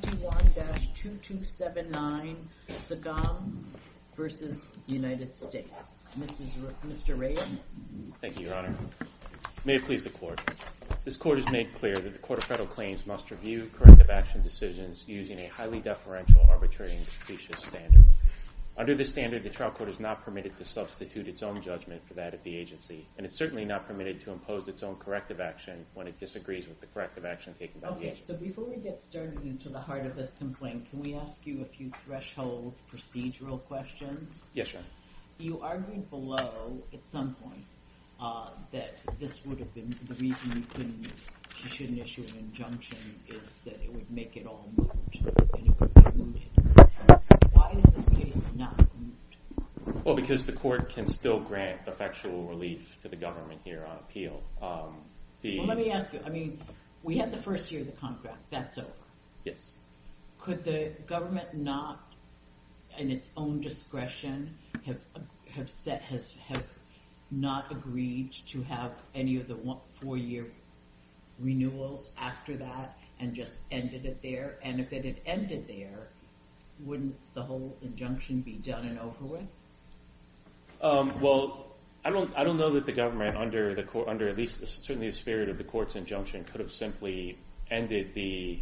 May it please the Court, this Court has made clear that the Court of Federal Claims must review corrective action decisions using a highly deferential, arbitrary, and suspicious standard. Under this standard, the trial court is not permitted to substitute its own judgment for that of the agency, and it's certainly not permitted to impose its own corrective action when it disagrees with the corrective action taken by the agency. Okay, so before we get started into the heart of this complaint, can we ask you a few threshold procedural questions? Yes, Your Honor. You argued below, at some point, that the reason you shouldn't issue an injunction is that it would make it all moot, and it would be mooted. Why is this case not mooted? Well, because the Court can still grant effectual relief to the government here on appeal. Well, let me ask you. I mean, we had the first year of the contract. That's over. Yes. Could the government not, in its own discretion, have not agreed to have any of the four-year renewals after that and just ended it there? And if it had ended there, wouldn't the whole injunction be done and over with? Well, I don't know that the government, under at least certainly the spirit of the Court's injunction, could have simply ended the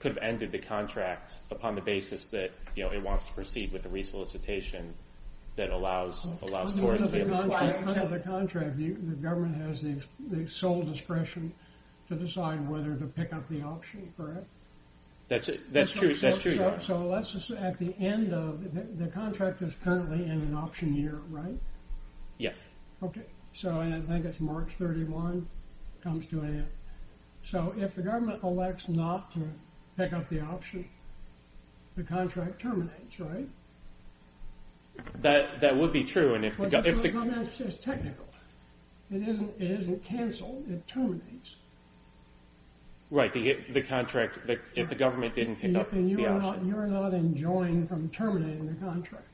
contract upon the basis that it wants to proceed with the re-solicitation that allows towards the end of the contract. The government has the sole discretion to decide whether to pick up the option for it. That's true, Your Honor. So, let's just say at the end of the contract is currently in an option year, right? Yes. Okay. So, I think it's March 31, comes to an end. So, if the government elects not to pick up the option, the contract terminates, right? That would be true. Well, that's just technical. It isn't canceled. Right. The contract, if the government didn't pick up the option. Right. And you're not enjoined from terminating the contract.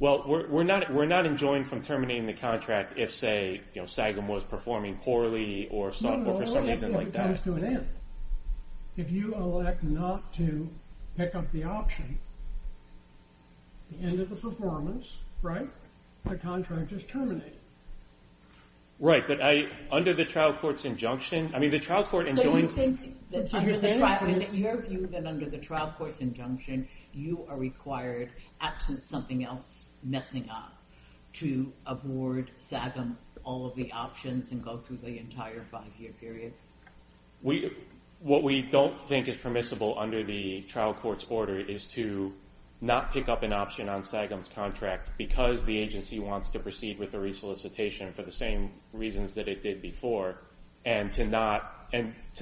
Well, we're not enjoined from terminating the contract if, say, Sagam was performing poorly or for some reason like that. No, no. It comes to an end. If you elect not to pick up the option, the end of the performance, right? The contract is terminated. Right. But under the trial court's injunction, I mean, the trial court enjoined. Your view that under the trial court's injunction, you are required, absent something else messing up, to abort Sagam, all of the options and go through the entire five-year period? What we don't think is permissible under the trial court's order is to not pick up an option on Sagam's contract because the agency wants to proceed with a resolicitation for the same reasons that it did before and to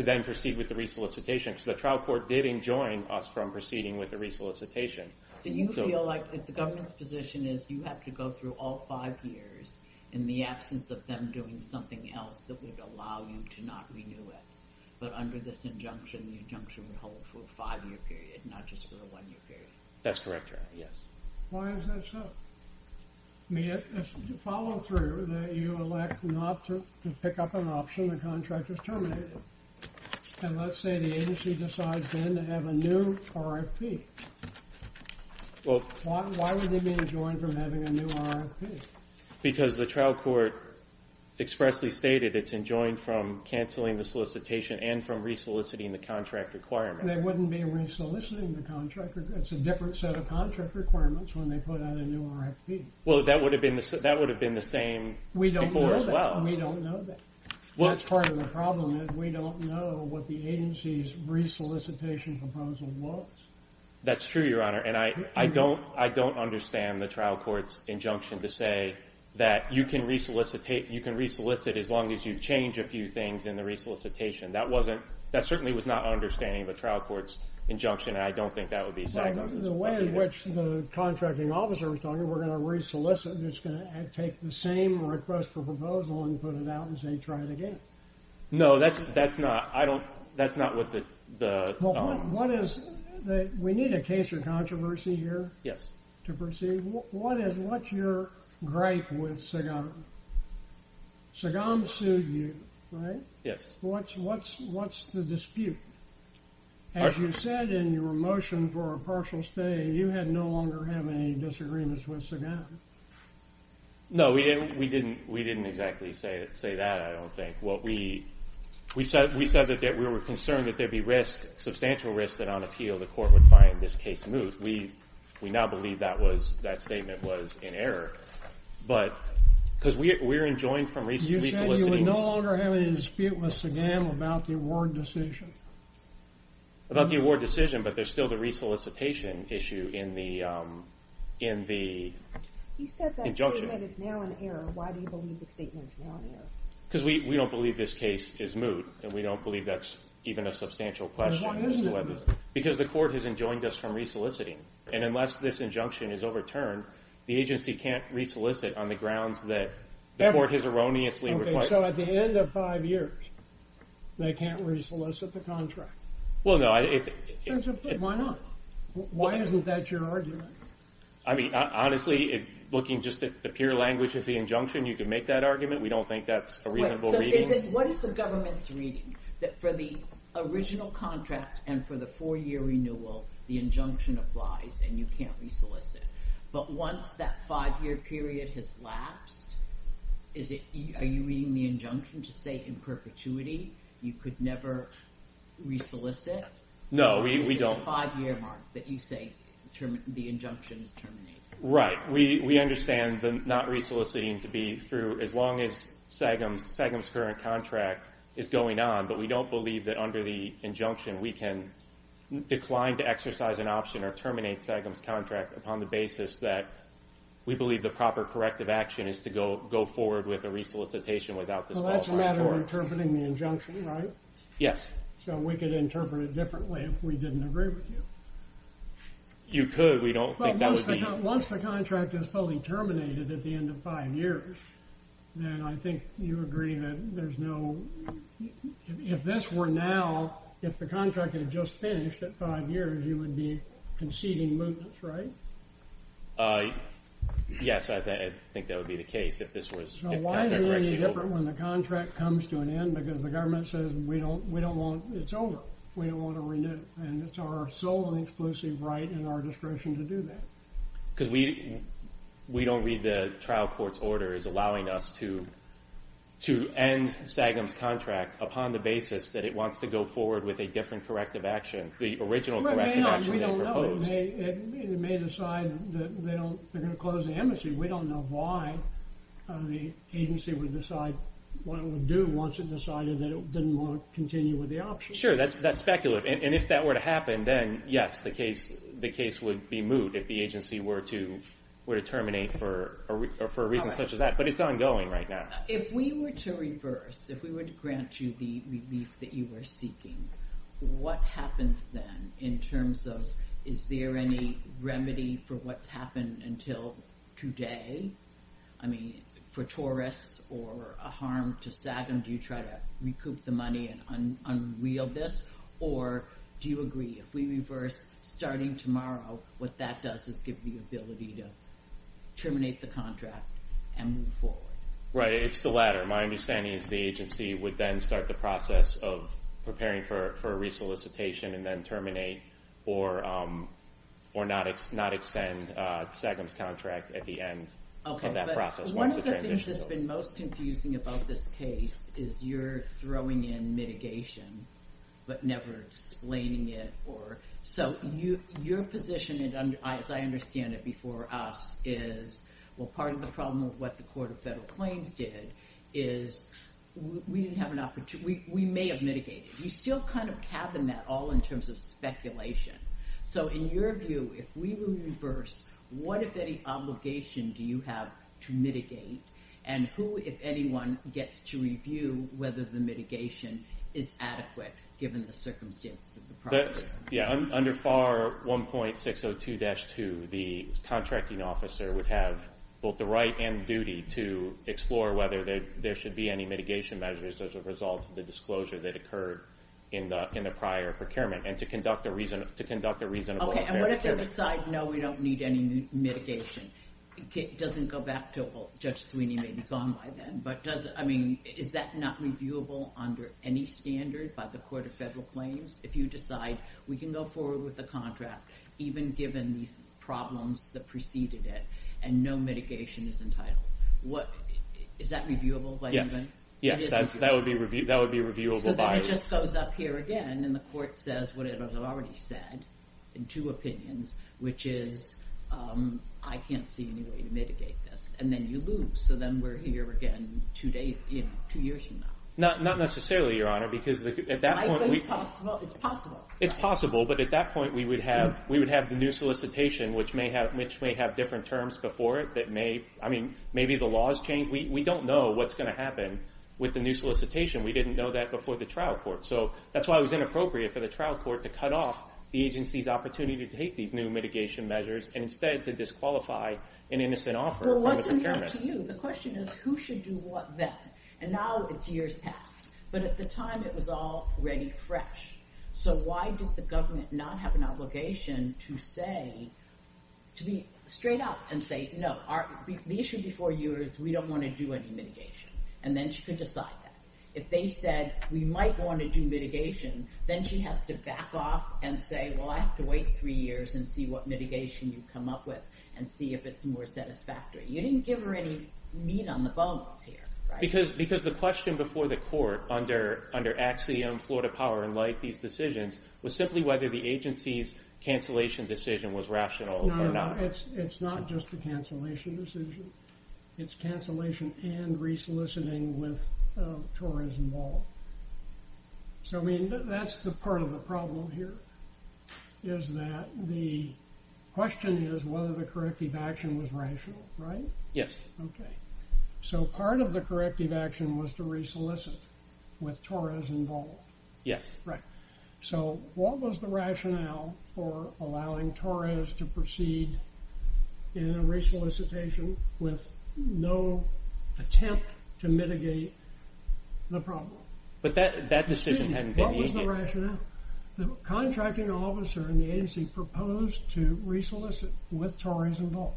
then proceed with the resolicitation. So the trial court did enjoin us from proceeding with the resolicitation. So you feel like if the government's position is you have to go through all five years in the absence of them doing something else that would allow you to not renew it. But under this injunction, the injunction would hold for a five-year period, not just for a one-year period. That's correct, Your Honor. Yes. Why is that so? To follow through that you elect not to pick up an option, the contract is terminated. And let's say the agency decides then to have a new RFP. Why would they be enjoined from having a new RFP? Because the trial court expressly stated it's enjoined from canceling the solicitation and from resoliciting the contract requirement. They wouldn't be resoliciting the contract. It's a different set of contract requirements when they put out a new RFP. Well, that would have been the same before as well. We don't know that. We don't know that. That's part of the problem is we don't know what the agency's resolicitation proposal was. That's true, Your Honor. And I don't understand the trial court's injunction to say that you can resolicit as long as you change a few things in the resolicitation. That certainly was not an understanding of a trial court's injunction, and I don't think that would be exactly what it is. The way in which the contracting officer was talking, we're going to resolicit, and it's going to take the same request for proposal and put it out and say try it again. No, that's not what the— Well, what is—we need a case or controversy here to proceed. What's your gripe with Sagam? Sagam sued you, right? Yes. What's the dispute? As you said in your motion for a partial stay, you no longer have any disagreements with Sagam. No, we didn't exactly say that, I don't think. What we—we said that we were concerned that there'd be risk, substantial risk that on appeal the court would find this case moved. We now believe that statement was in error. But because we're enjoined from resoliciting— What's the dispute with Sagam about the award decision? About the award decision, but there's still the resolicitation issue in the injunction. You said that statement is now in error. Why do you believe the statement is now in error? Because we don't believe this case is moved, and we don't believe that's even a substantial question. Why isn't it moved? Because the court has enjoined us from resoliciting, and unless this injunction is overturned, the agency can't resolicit on the grounds that the court has erroneously— Okay, so at the end of five years, they can't resolicit the contract. Well, no— Why not? Why isn't that your argument? I mean, honestly, looking just at the pure language of the injunction, you could make that argument. We don't think that's a reasonable reading. What is the government's reading? That for the original contract and for the four-year renewal, the injunction applies and you can't resolicit. But once that five-year period has lapsed, are you reading the injunction to say in perpetuity you could never resolicit? No, we don't— Or is it the five-year mark that you say the injunction is terminated? Right. We understand the not resoliciting to be through as long as SAGIM's current contract is going on, but we don't believe that under the injunction we can decline to exercise an option or terminate SAGIM's contract upon the basis that we believe the proper corrective action is to go forward with a resolicitation without this— Well, that's a matter of interpreting the injunction, right? Yes. So we could interpret it differently if we didn't agree with you. You could. We don't think that would be— But once the contract is fully terminated at the end of five years, then I think you agree that there's no— If this were now—if the contract had just finished at five years, you would be conceding mootness, right? Yes, I think that would be the case if this was— So why is it any different when the contract comes to an end? Because the government says we don't want—it's over. We don't want to renew. And it's our sole and exclusive right and our discretion to do that. Because we don't read the trial court's orders allowing us to end SAGIM's contract upon the basis that it wants to go forward with a different corrective action, the original corrective action they proposed. It may decide that they're going to close the embassy. We don't know why the agency would decide what it would do once it decided that it didn't want to continue with the option. Sure, that's speculative. And if that were to happen, then yes, the case would be moot if the agency were to terminate for a reason such as that. But it's ongoing right now. If we were to reverse, if we were to grant you the relief that you were seeking, what happens then in terms of is there any remedy for what's happened until today? I mean, for tourists or a harm to SAGIM, do you try to recoup the money and unreel this? Or do you agree if we reverse starting tomorrow, what that does is give you the ability to terminate the contract and move forward? Right, it's the latter. My understanding is the agency would then start the process of preparing for a resolicitation and then terminate or not extend SAGIM's contract at the end of that process. One of the things that's been most confusing about this case is you're throwing in mitigation but never explaining it. So your position, as I understand it before us, is, well, part of the problem of what the Court of Federal Claims did is we didn't have an opportunity. We may have mitigated. We still kind of cabin that all in terms of speculation. So in your view, if we were to reverse, what, if any, obligation do you have to mitigate? And who, if anyone, gets to review whether the mitigation is adequate, given the circumstances of the problem? Yeah, under FAR 1.602-2, the contracting officer would have both the right and duty to explore whether there should be any mitigation measures as a result of the disclosure that occurred in the prior procurement and to conduct a reasonable fair share. Okay, and what if they decide, no, we don't need any mitigation? It doesn't go back to, well, Judge Sweeney may be gone by then, but is that not reviewable under any standard by the Court of Federal Claims? If you decide we can go forward with the contract, even given these problems that preceded it, and no mitigation is entitled, is that reviewable by anyone? Yes, that would be reviewable by us. So then it just goes up here again, and the Court says what it has already said, in two opinions, which is, I can't see any way to mitigate this. And then you lose. So then we're here again two years from now. Not necessarily, Your Honor, because at that point we— Well, it's possible. It's possible, but at that point we would have the new solicitation, which may have different terms before it that may, I mean, maybe the laws change. We don't know what's going to happen with the new solicitation. We didn't know that before the trial court. So that's why it was inappropriate for the trial court to cut off the agency's opportunity to take these new mitigation measures and instead to disqualify an innocent offer. Well, it wasn't up to you. The question is who should do what then, and now it's years past. But at the time it was all ready, fresh. So why did the government not have an obligation to say—to be straight up and say, no, the issue before you is we don't want to do any mitigation. And then she could decide that. If they said we might want to do mitigation, then she has to back off and say, well, I have to wait three years and see what mitigation you come up with and see if it's more satisfactory. You didn't give her any meat on the bones here, right? Because the question before the court under Axiom, Florida Power & Light, these decisions, was simply whether the agency's cancellation decision was rational or not. No, it's not just a cancellation decision. It's cancellation and resoliciting with a tourism wall. So that's part of the problem here is that the question is whether the corrective action was rational, right? Yes. Okay. So part of the corrective action was to resolicit with Torres and Ball. Yes. Right. So what was the rationale for allowing Torres to proceed in a resolicitation with no attempt to mitigate the problem? But that decision hadn't been made yet. What was the rationale? The contracting officer in the agency proposed to resolicit with Torres and Ball.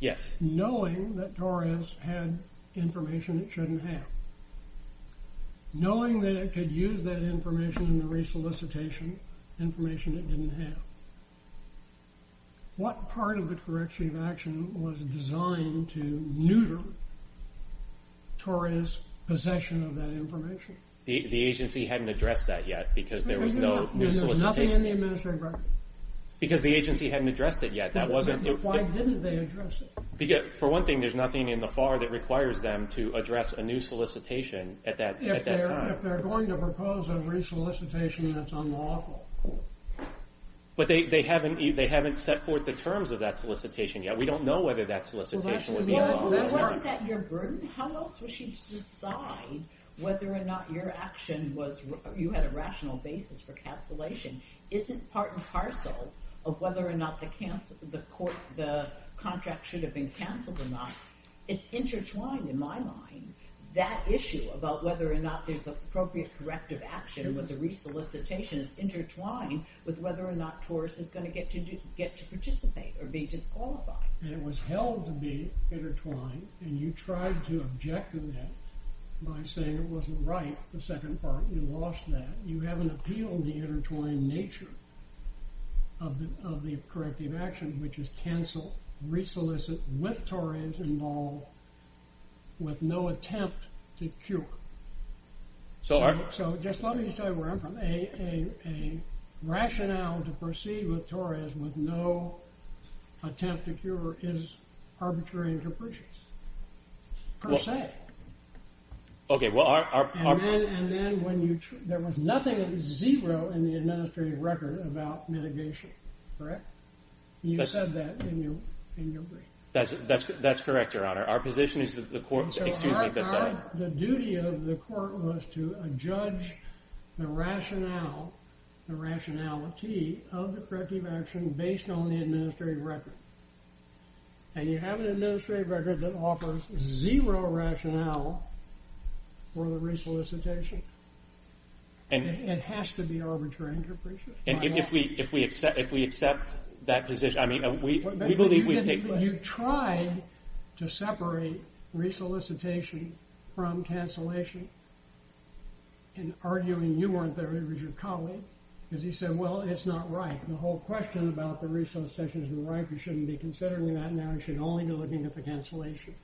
Yes. Just knowing that Torres had information it shouldn't have. Knowing that it could use that information in the resolicitation information it didn't have. What part of the corrective action was designed to neuter Torres' possession of that information? The agency hadn't addressed that yet because there was no resolicitation. There was nothing in the administrative record. Because the agency hadn't addressed it yet. Why didn't they address it? For one thing, there's nothing in the FAR that requires them to address a new solicitation at that time. If they're going to propose a resolicitation that's unlawful. But they haven't set forth the terms of that solicitation yet. We don't know whether that solicitation was unlawful. Wasn't that your burden? How else was she to decide whether or not your action was, you had a rational basis for cancellation? Is it part and parcel of whether or not the contract should have been canceled or not? It's intertwined in my mind. That issue about whether or not there's appropriate corrective action or whether the resolicitation is intertwined with whether or not Torres is going to get to participate or be disqualified. It was held to be intertwined and you tried to object to that by saying it wasn't right. The second part, you lost that. You haven't appealed the intertwined nature of the corrective action, which is cancel, resolicit with Torres involved with no attempt to cure. So just let me tell you where I'm from. A rationale to proceed with Torres with no attempt to cure is arbitrary and capricious, per se. Okay. And then there was nothing zero in the administrative record about mitigation. Correct? You said that in your brief. That's correct, Your Honor. Our position is that the court, excuse me. The duty of the court was to judge the rationality of the corrective action based on the administrative record. And you have an administrative record that offers zero rationale for the resolicitation. And it has to be arbitrary and capricious. And if we accept that position, I mean, we believe we've taken... You tried to separate resolicitation from cancellation in arguing you weren't there, it was your colleague, because he said, well, it's not right. The whole question about the resolicitation isn't right. You shouldn't be considering that now. You should only be looking at the cancellation.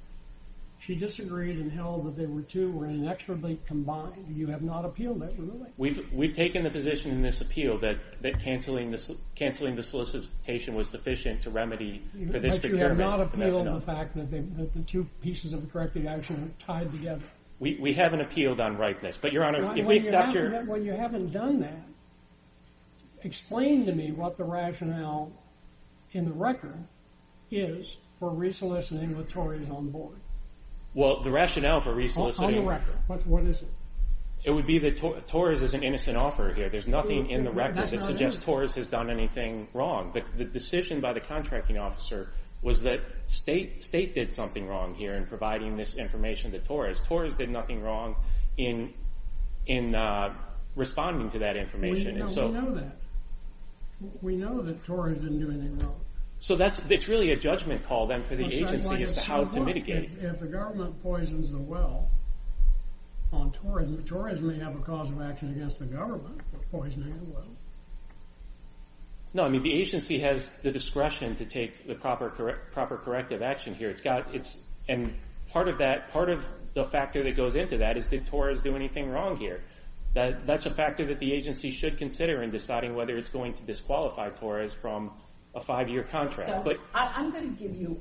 She disagreed and held that the two were inexorably combined. You have not appealed it, really. We've taken the position in this appeal that canceling the solicitation was sufficient to remedy for this procurement. But you have not appealed the fact that the two pieces of the corrective action are tied together. We haven't appealed on ripeness. When you haven't done that, explain to me what the rationale in the record is for resoliciting with Torres on board. Well, the rationale for resoliciting... On the record, what is it? It would be that Torres is an innocent offeror here. There's nothing in the record that suggests Torres has done anything wrong. The decision by the contracting officer was that State did something wrong here in providing this information to Torres. Torres did nothing wrong in responding to that information. We know that. We know that Torres didn't do anything wrong. So it's really a judgment call then for the agency as to how to mitigate it. If the government poisons the well on Torres, Torres may have a cause of action against the government for poisoning the well. No, I mean the agency has the discretion to take the proper corrective action here. Part of the factor that goes into that is did Torres do anything wrong here? That's a factor that the agency should consider in deciding whether it's going to disqualify Torres from a five-year contract. I'm going to give you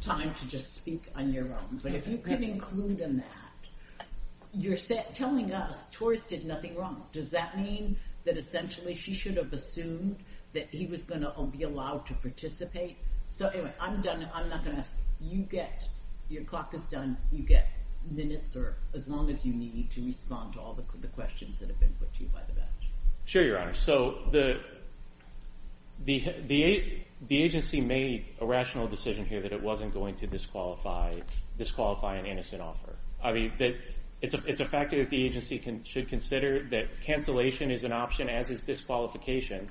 time to just speak on your own, but if you could include in that, you're telling us Torres did nothing wrong. Does that mean that essentially she should have assumed that he was going to be allowed to participate? So anyway, I'm done. I'm not going to ask you. You get – your clock is done. You get minutes or as long as you need to respond to all the questions that have been put to you by the bench. Sure, Your Honor. So the agency made a rational decision here that it wasn't going to disqualify an innocent offer. I mean it's a factor that the agency should consider that cancellation is an option as is disqualification.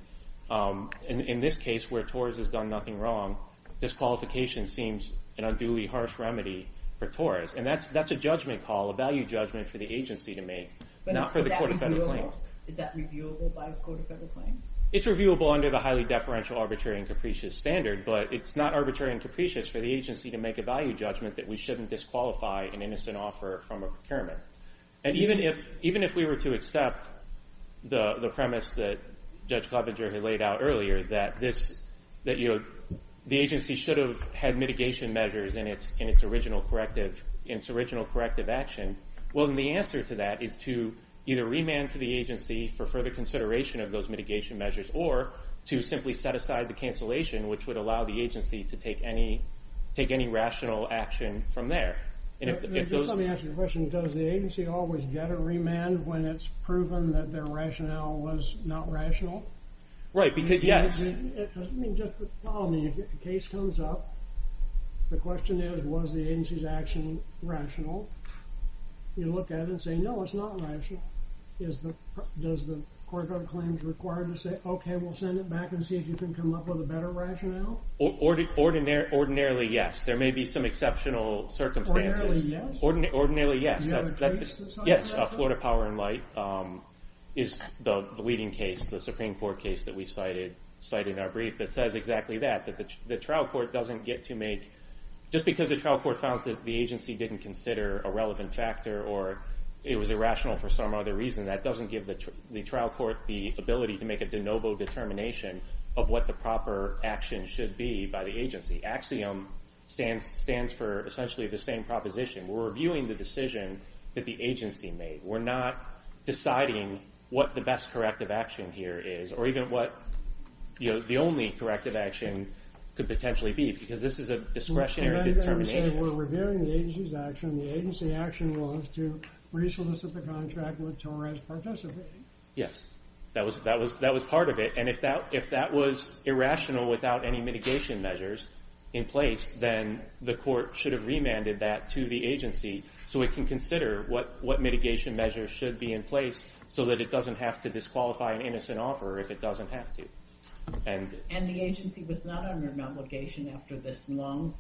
In this case where Torres has done nothing wrong, disqualification seems an unduly harsh remedy for Torres, and that's a judgment call, a value judgment for the agency to make, not for the court of federal claims. Is that reviewable by the court of federal claims? It's reviewable under the highly deferential, arbitrary, and capricious standard, but it's not arbitrary and capricious for the agency to make a value judgment that we shouldn't disqualify an innocent offer from a procurement. And even if we were to accept the premise that Judge Klobuchar had laid out earlier that this – that the agency should have had mitigation measures in its original corrective action, well then the answer to that is to either remand to the agency for further consideration of those mitigation measures or to simply set aside the cancellation, which would allow the agency to take any rational action from there. Just let me ask you a question. Does the agency always get a remand when it's proven that their rationale was not rational? Right, because yes. It doesn't mean just that the case comes up. The question is, was the agency's action rational? You look at it and say, no, it's not rational. Does the court of federal claims require to say, okay, we'll send it back and see if you can come up with a better rationale? Ordinarily yes. There may be some exceptional circumstances. Ordinarily yes? Ordinarily yes. Do you have a case that's not rational? Yes, Florida Power and Light is the leading case, the Supreme Court case that we cited in our brief that says exactly that, that the trial court doesn't get to make – just because the trial court found that the agency didn't consider a relevant factor or it was irrational for some other reason, that doesn't give the trial court the ability to make a de novo determination of what the proper action should be by the agency. Axiom stands for essentially the same proposition. We're reviewing the decision that the agency made. We're not deciding what the best corrective action here is or even what the only corrective action could potentially be, because this is a discretionary determination. We're reviewing the agency's action. The agency action was to re-solicit the contract with Torres Participating. Yes, that was part of it. And if that was irrational without any mitigation measures in place, then the court should have remanded that to the agency so it can consider what mitigation measures should be in place so that it doesn't have to disqualify an innocent offerer if it doesn't have to. And the agency was not under an obligation after this long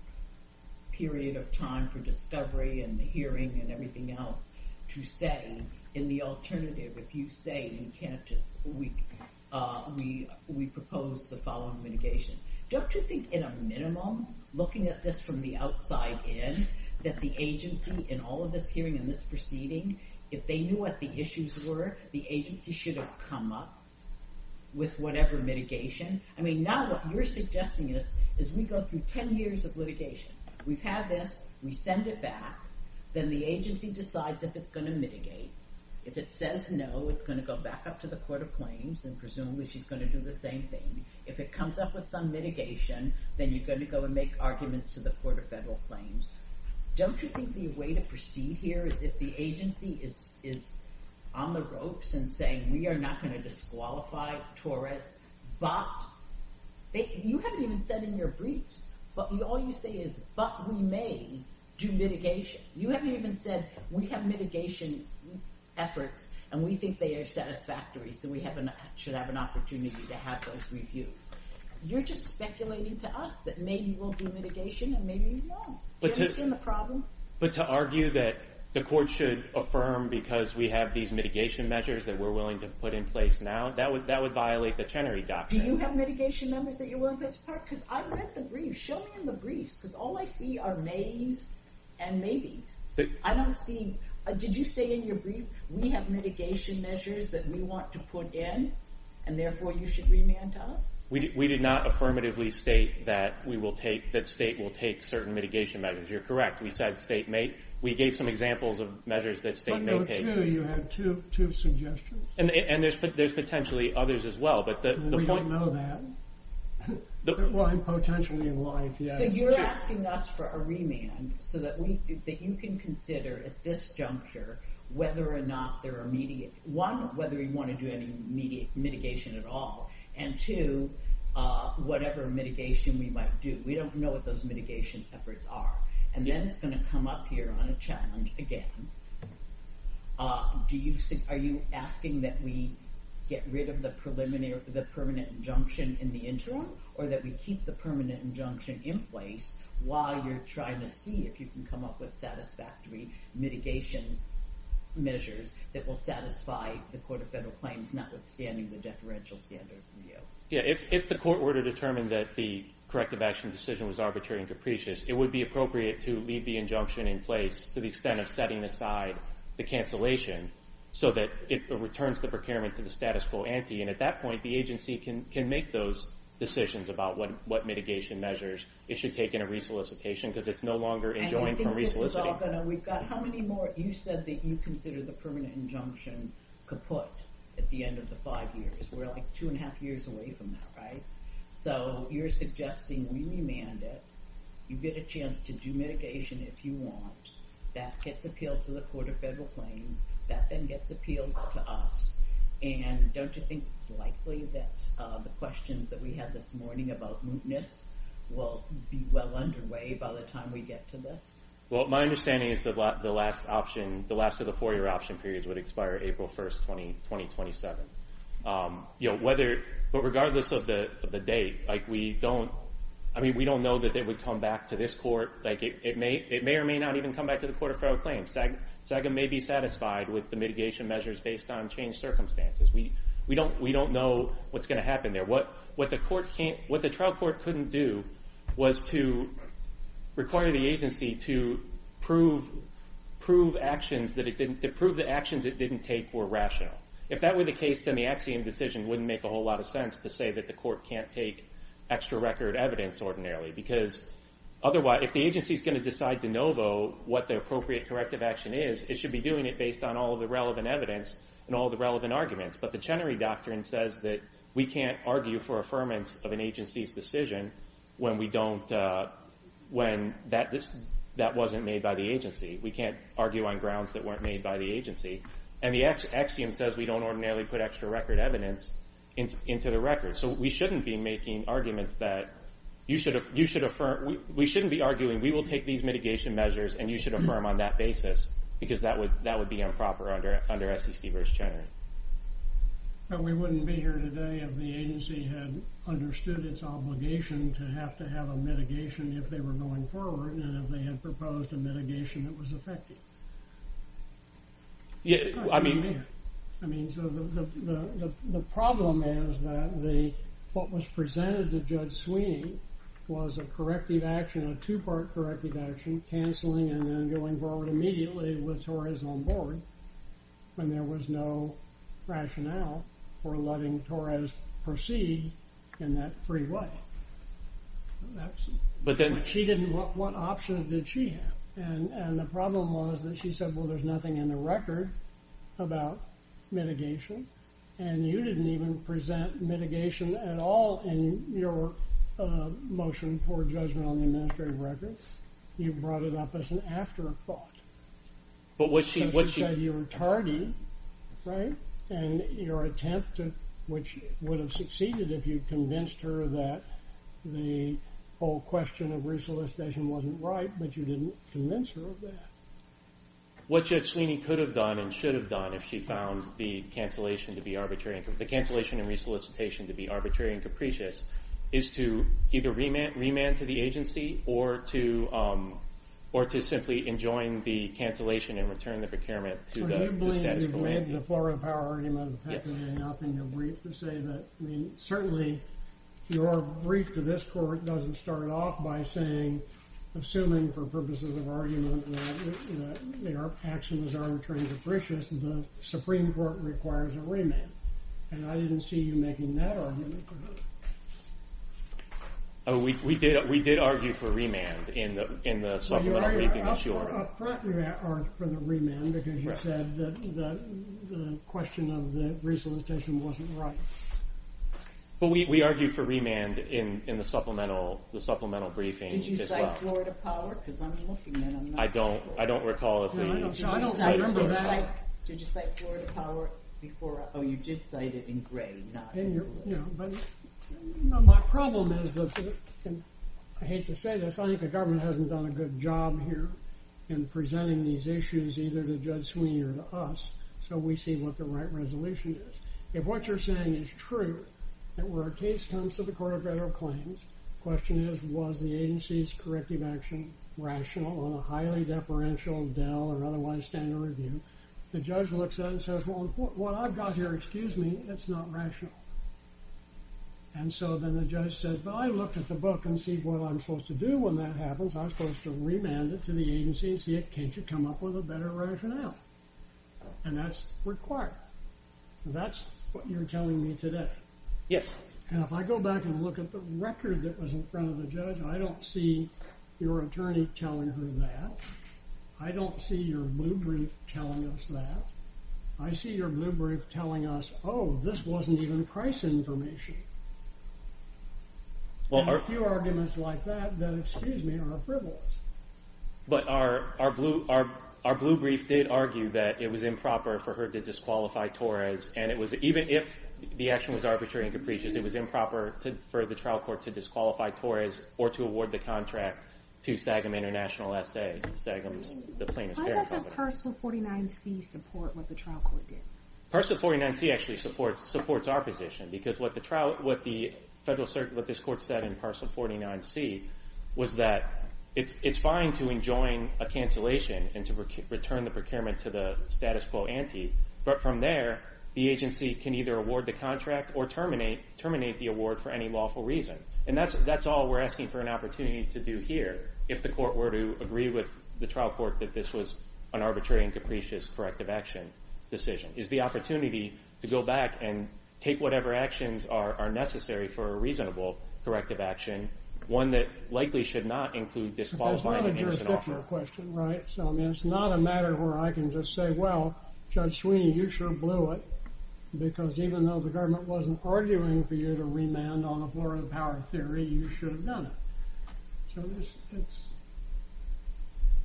period of time for discovery and the hearing and everything else to say, in the alternative, if you say we propose the following mitigation. Don't you think in a minimum, looking at this from the outside in, that the agency in all of this hearing and this proceeding, if they knew what the issues were, the agency should have come up with whatever mitigation? I mean, now what you're suggesting is we go through 10 years of litigation. We've had this, we send it back, then the agency decides if it's going to mitigate. If it says no, it's going to go back up to the Court of Claims and presumably she's going to do the same thing. If it comes up with some mitigation, then you're going to go and make arguments to the Court of Federal Claims. Don't you think the way to proceed here is if the agency is on the ropes and saying we are not going to disqualify Torres, but you haven't even said in your briefs, but all you say is, but we may do mitigation. You haven't even said we have mitigation efforts and we think they are satisfactory so we should have an opportunity to have those reviewed. You're just speculating to us that maybe we'll do mitigation and maybe we won't. Do you understand the problem? But to argue that the Court should affirm because we have these mitigation measures that we're willing to put in place now, that would violate the Chenery Doctrine. Do you have mitigation measures that you're willing to put in place? Because I read the briefs. Show me in the briefs because all I see are mays and maybes. I don't see, did you say in your brief we have mitigation measures that we want to put in and therefore you should remand to us? We did not affirmatively state that we will take, that state will take certain mitigation measures. You're correct. We said state may, we gave some examples of measures that state may take. You had two suggestions. And there's potentially others as well. We don't know that. Potentially in life, yeah. So you're asking us for a remand so that you can consider at this juncture whether or not there are immediate, one, whether you want to do any immediate mitigation at all, and two, whatever mitigation we might do. We don't know what those mitigation efforts are. And then it's going to come up here on a challenge again. Are you asking that we get rid of the permanent injunction in the interim or that we keep the permanent injunction in place while you're trying to see if you can come up with satisfactory mitigation measures that will satisfy the Court of Federal Claims notwithstanding the deferential standard review? Yeah, if the court were to determine that the corrective action decision was arbitrary and capricious, it would be appropriate to leave the injunction in place to the extent of setting aside the cancellation so that it returns the procurement to the status quo ante. And at that point, the agency can make those decisions about what mitigation measures it should take in a resolicitation because it's no longer enjoined from resoliciting. And I think this is all going to, we've got how many more, you said that you consider the permanent injunction kaput at the end of the five years. We're like two and a half years away from that, right? So you're suggesting we remand it. You get a chance to do mitigation if you want. That gets appealed to the Court of Federal Claims. That then gets appealed to us. And don't you think it's likely that the questions that we had this morning about mootness will be well underway by the time we get to this? Well, my understanding is that the last option, the last of the four-year option periods would expire April 1st, 2027. But regardless of the date, we don't know that it would come back to this court. It may or may not even come back to the Court of Federal Claims. SAGA may be satisfied with the mitigation measures based on changed circumstances. We don't know what's going to happen there. What the trial court couldn't do was to require the agency to prove the actions it didn't take were rational. If that were the case, then the Axiom decision wouldn't make a whole lot of sense to say that the court can't take extra record evidence ordinarily. Because if the agency is going to decide de novo what the appropriate corrective action is, it should be doing it based on all of the relevant evidence and all of the relevant arguments. But the Chenery Doctrine says that we can't argue for affirmance of an agency's decision when that wasn't made by the agency. We can't argue on grounds that weren't made by the agency. And the Axiom says we don't ordinarily put extra record evidence into the record. So we shouldn't be making arguments that you should affirm, we shouldn't be arguing we will take these mitigation measures and you should affirm on that basis. Because that would be improper under SEC v. Chenery. But we wouldn't be here today if the agency had understood its obligation to have to have a mitigation if they were going forward, and if they had proposed a mitigation that was effective. I mean... The problem is that what was presented to Judge Sweeney was a corrective action, a two-part corrective action, canceling and then going forward immediately with Torres on board, when there was no rationale for letting Torres proceed in that freeway. What options did she have? And the problem was that she said, well, there's nothing in the record about mitigation, and you didn't even present mitigation at all in your motion for judgment on the administrative records. You brought it up as an afterthought. She said you were tardy, right? And your attempt, which would have succeeded if you convinced her that the whole question of re-solicitation wasn't right, but you didn't convince her of that. What Judge Sweeney could have done and should have done if she found the cancellation and re-solicitation to be arbitrary and capricious is to either remand to the agency or to simply enjoin the cancellation and return the procurement to the statute of limitations. So you blame the Florida Power Argument of Peclet and Alpine to say that, I mean, certainly your brief to this court doesn't start off by saying, assuming for purposes of argument that their actions are arbitrary and capricious, the Supreme Court requires a remand. And I didn't see you making that argument. We did argue for a remand in the supplemental briefing that she ordered. We did not argue for the remand because you said that the question of the re-solicitation wasn't right. But we argued for remand in the supplemental briefing as well. Did you cite Florida Power? Because I'm looking and I'm not sure. I don't recall if the… No, I don't. Did you cite Florida Power before? Oh, you did cite it in gray, not in red. My problem is, and I hate to say this, I think the government hasn't done a good job here in presenting these issues either to Judge Sweeney or to us, so we see what the right resolution is. If what you're saying is true, and where a case comes to the Court of Federal Claims, the question is, was the agency's corrective action rational on a highly deferential DEL or otherwise standard review? And the judge looks at it and says, well, what I've got here, excuse me, it's not rational. And so then the judge says, well, I looked at the book and see what I'm supposed to do when that happens. I'm supposed to remand it to the agency and see in case you come up with a better rationale. And that's required. That's what you're telling me today. Yes. And if I go back and look at the record that was in front of the judge, I don't see your attorney telling her that. I don't see your blue brief telling us that. I see your blue brief telling us, oh, this wasn't even price information. There are a few arguments like that that, excuse me, are frivolous. But our blue brief did argue that it was improper for her to disqualify Torres, and even if the action was arbitrary and capricious, it was improper for the trial court to disqualify Torres or to award the contract to Sagam International S.A., Sagam's plaintiff's parent company. Why doesn't Parcel 49C support what the trial court did? Parcel 49C actually supports our position because what the Federal Circuit, what this court said in Parcel 49C, was that it's fine to enjoin a cancellation and to return the procurement to the status quo ante. But from there, the agency can either award the contract or terminate the award for any lawful reason. And that's all we're asking for an opportunity to do here, if the court were to agree with the trial court that this was an arbitrary and capricious corrective action decision, is the opportunity to go back and take whatever actions are necessary for a reasonable corrective action, one that likely should not include disqualifying the agency at all. That's not a jurisdictional question, right? So, I mean, it's not a matter where I can just say, well, Judge Sweeney, you sure blew it, because even though the government wasn't arguing for you to remand on the Florida Power Theory, you should have done it. So,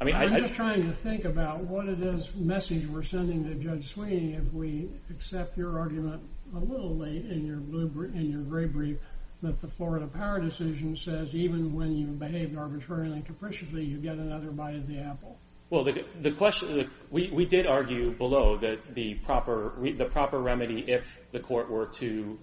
I'm just trying to think about what it is, the message we're sending to Judge Sweeney, if we accept your argument a little late in your gray brief that the Florida Power Decision says, even when you behaved arbitrarily and capriciously, you get another bite of the apple. Well, the question, we did argue below that the proper remedy, if the court were to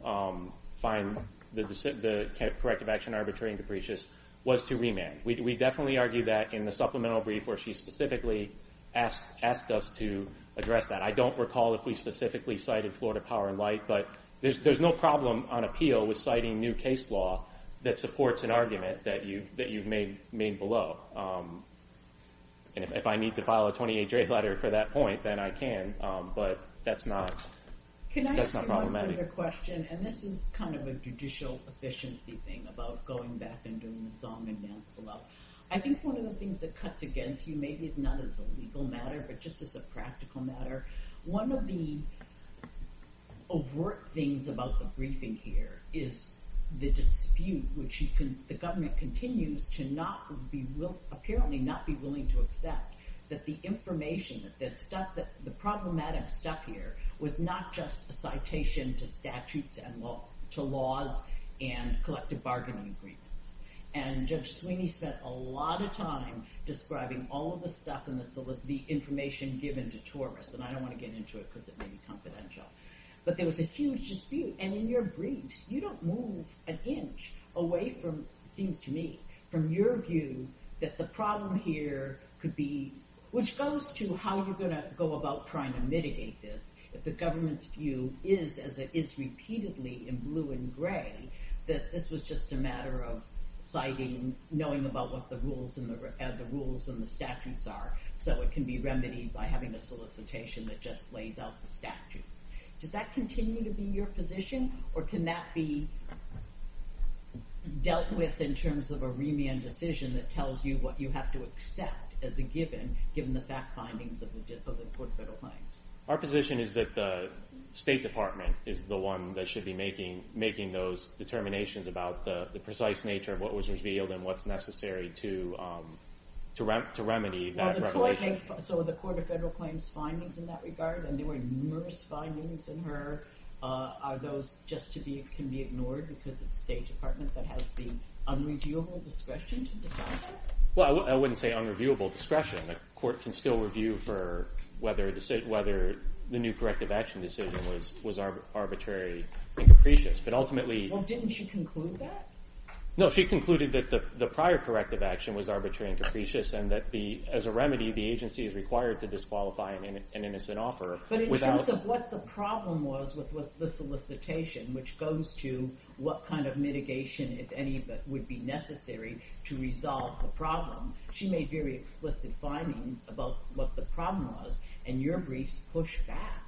find the corrective action arbitrary and capricious, was to remand. We definitely argue that in the supplemental brief where she specifically asked us to address that. I don't recall if we specifically cited Florida Power in light, but there's no problem on appeal with citing new case law that supports an argument that you've made below. And if I need to file a 28-day letter for that point, then I can, but that's not problematic. Can I ask you one other question? And this is kind of a judicial efficiency thing about going back and doing the song and dance below. I think one of the things that cuts against you, maybe it's not as a legal matter, but just as a practical matter, one of the overt things about the briefing here is the dispute, which the government continues to apparently not be willing to accept that the information, the problematic stuff here was not just a citation to statutes and to laws and collective bargaining agreements. And Judge Sweeney spent a lot of time describing all of the stuff and the information given to Taurus, and I don't want to get into it because it may be confidential, but there was a huge dispute. And in your briefs, you don't move an inch away from, it seems to me, from your view that the problem here could be, which goes to how you're going to go about trying to mitigate this, if the government's view is, as it is repeatedly in blue and gray, that this was just a matter of citing, knowing about what the rules and the statutes are, so it can be remedied by having a solicitation that just lays out the statutes. Does that continue to be your position, or can that be dealt with in terms of a remand decision that tells you what you have to accept as a given, given the fact findings of the Court of Federal Claims? Our position is that the State Department is the one that should be making those determinations about the precise nature of what was revealed and what's necessary to remedy that revelation. So the Court of Federal Claims' findings in that regard, and there were numerous findings in her, are those just to be, can be ignored because it's the State Department that has the unreviewable discretion to decide that? Well, I wouldn't say unreviewable discretion. The Court can still review for whether the new corrective action decision was arbitrary and capricious, but ultimately… Well, didn't she conclude that? No, she concluded that the prior corrective action was arbitrary and capricious and that as a remedy the agency is required to disqualify an innocent offer without… But in terms of what the problem was with the solicitation, which goes to what kind of mitigation, if any, would be necessary to resolve the problem, she made very explicit findings about what the problem was, and your briefs push back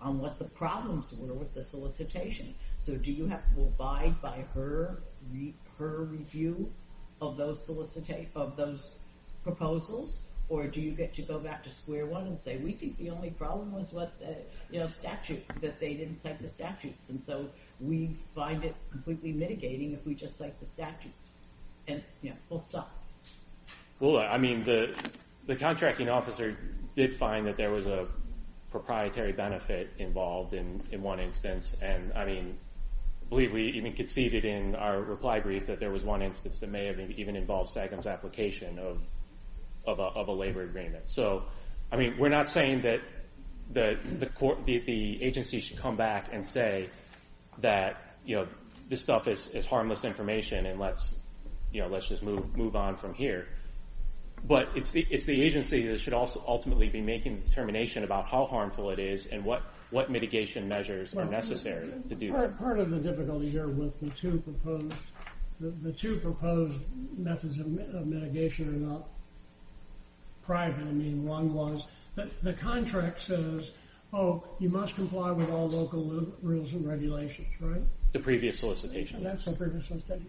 on what the problems were with the solicitation. So do you have to abide by her review of those proposals, or do you get to go back to square one and say, we think the only problem was that they didn't cite the statutes, and so we find it completely mitigating if we just cite the statutes, and we'll stop. Well, I mean, the contracting officer did find that there was a proprietary benefit involved in one instance, and, I mean, I believe we even conceded in our reply brief that there was one instance that may have even involved SAGM's application of a labor agreement. So, I mean, we're not saying that the agency should come back and say that, you know, this stuff is harmless information and let's just move on from here, but it's the agency that should ultimately be making the determination about how harmful it is and what mitigation measures are necessary to do that. Part of the difficulty here with the two proposed methods of mitigation are not private. I mean, one was that the contract says, oh, you must comply with all local rules and regulations, right? The previous solicitation. That's the previous solicitation.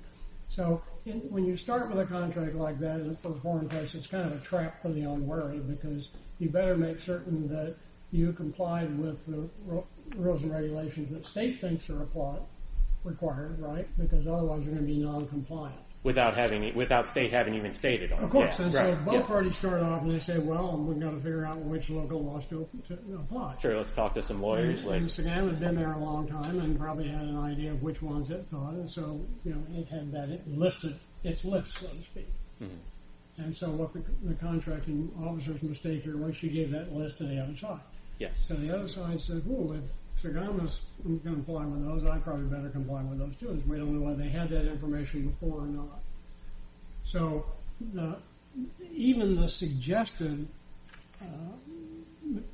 So when you start with a contract like that in a foreign place, it's kind of a trap for the unwary because you better make certain that you comply with the rules and regulations that state thinks are required, right, because otherwise you're going to be noncompliant. Without state having even stated on it. Of course. And so both parties start off and they say, well, we've got to figure out which local laws to apply. Sure, let's talk to some lawyers. SAGM had been there a long time and probably had an idea of which ones it thought, and so, you know, it had that listed, its list, so to speak. And so the contracting officer's mistake here was she gave that list to the other side. Yes. So the other side says, well, if SAGM is going to comply with those, I probably better comply with those too. We don't know whether they had that information before or not. So even the suggested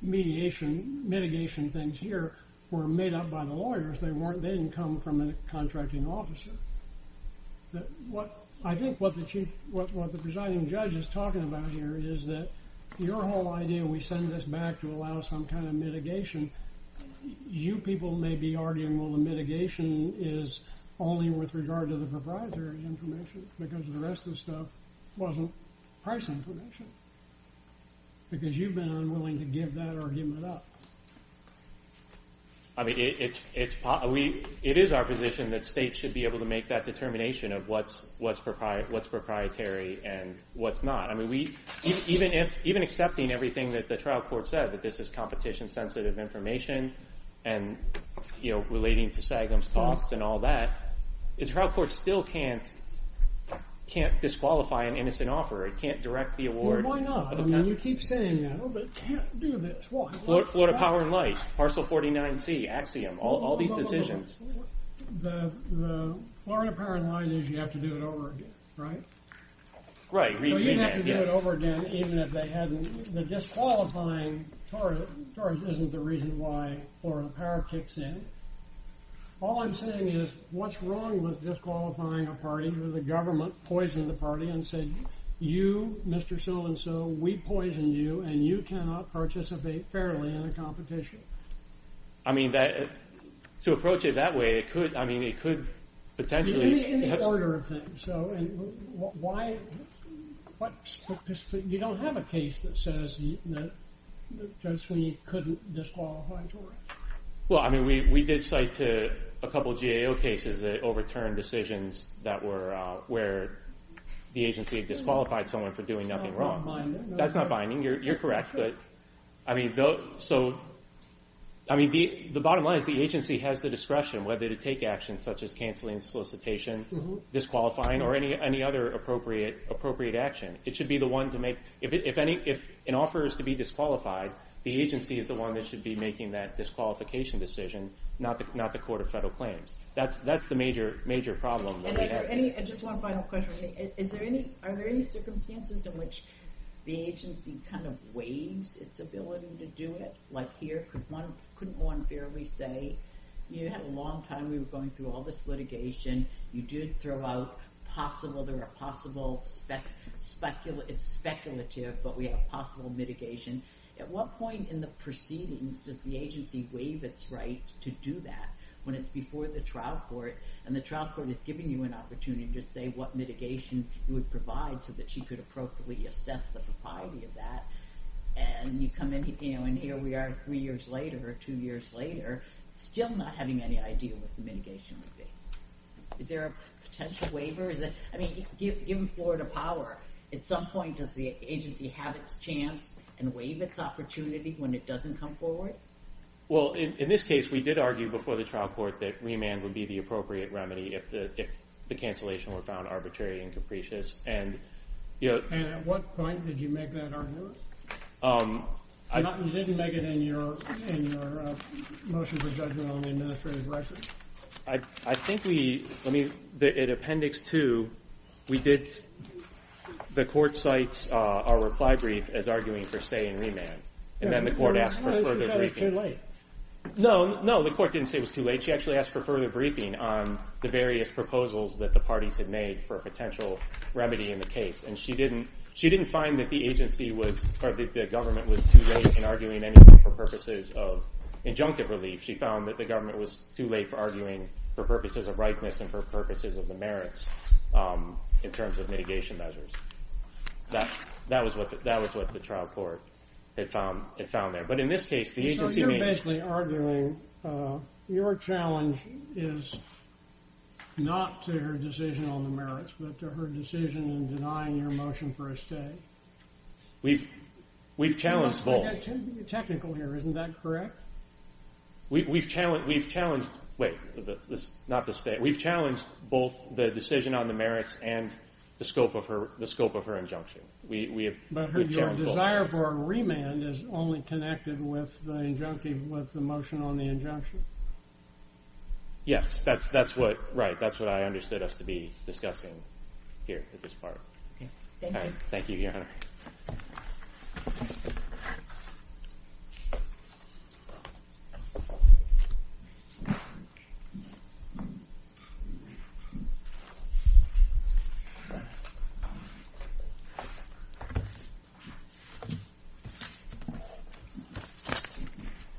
mitigation things here were made up by the lawyers. They didn't come from a contracting officer. I think what the presiding judge is talking about here is that your whole idea, we send this back to allow some kind of mitigation, you people may be arguing, well, the mitigation is only with regard to the provider's information because the rest of the stuff wasn't price information because you've been unwilling to give that argument up. I mean, it is our position that states should be able to make that determination of what's proprietary and what's not. I mean, even accepting everything that the trial court said, that this is competition-sensitive information and, you know, relating to SAGM's costs and all that, the trial court still can't disqualify an innocent offer. It can't direct the award. Well, why not? I mean, you keep saying, you know, but it can't do this. Florida Power & Light, Parcel 49C, Axiom, all these decisions. The Florida Power & Light is you have to do it over again, right? Right. So you'd have to do it over again even if they hadn't. The disqualifying charge isn't the reason why Florida Power kicks in. All I'm saying is what's wrong with disqualifying a party where the government poisoned the party and said, you, Mr. So-and-so, we poisoned you, and you cannot participate fairly in a competition? I mean, to approach it that way, it could, I mean, it could potentially. In the order of things. So why? You don't have a case that says that Joe Sweeney couldn't disqualify. Well, I mean, we did cite a couple GAO cases that overturned decisions that were where the agency disqualified someone for doing nothing wrong. That's not binding. You're correct. I mean, the bottom line is the agency has the discretion whether to take actions such as canceling solicitation, disqualifying, or any other appropriate action. It should be the one to make. If an offer is to be disqualified, the agency is the one that should be making that disqualification decision, not the Court of Federal Claims. That's the major problem that we have. And just one final question. Are there any circumstances in which the agency kind of waives its ability to do it? Like here, couldn't one fairly say, you had a long time, we were going through all this litigation, you did throw out possible, there are possible, it's speculative, but we have possible mitigation. At what point in the proceedings does the agency waive its right to do that? When it's before the trial court and the trial court is giving you an opportunity to say what mitigation would provide so that she could appropriately assess the propriety of that, and you come in and here we are three years later or two years later, still not having any idea what the mitigation would be. Is there a potential waiver? I mean, given Florida power, at some point does the agency have its chance and waive its opportunity when it doesn't come forward? Well, in this case, we did argue before the trial court that remand would be the appropriate remedy if the cancellation were found arbitrary and capricious. And at what point did you make that argument? You didn't make it in your motion for judgment on the administrative record. I think we, let me, in Appendix 2, we did, the court cites our reply brief as arguing for stay in remand. And then the court asked for further briefing. No, no, the court didn't say it was too late. She actually asked for further briefing on the various proposals that the parties had made for a potential remedy in the case. And she didn't find that the government was too late in arguing anything for purposes of injunctive relief. She found that the government was too late for arguing for purposes of rightness and for purposes of the merits in terms of mitigation measures. That was what the trial court had found there. But in this case, the agency made- So you're basically arguing your challenge is not to her decision on the merits, but to her decision in denying your motion for a stay. We've challenged both. I got too technical here. Isn't that correct? We've challenged, wait, not the state. We've challenged both the decision on the merits and the scope of her injunction. But her desire for a remand is only connected with the motion on the injunction. Yes, that's what I understood us to be discussing here at this part. Thank you. Thank you, Your Honor.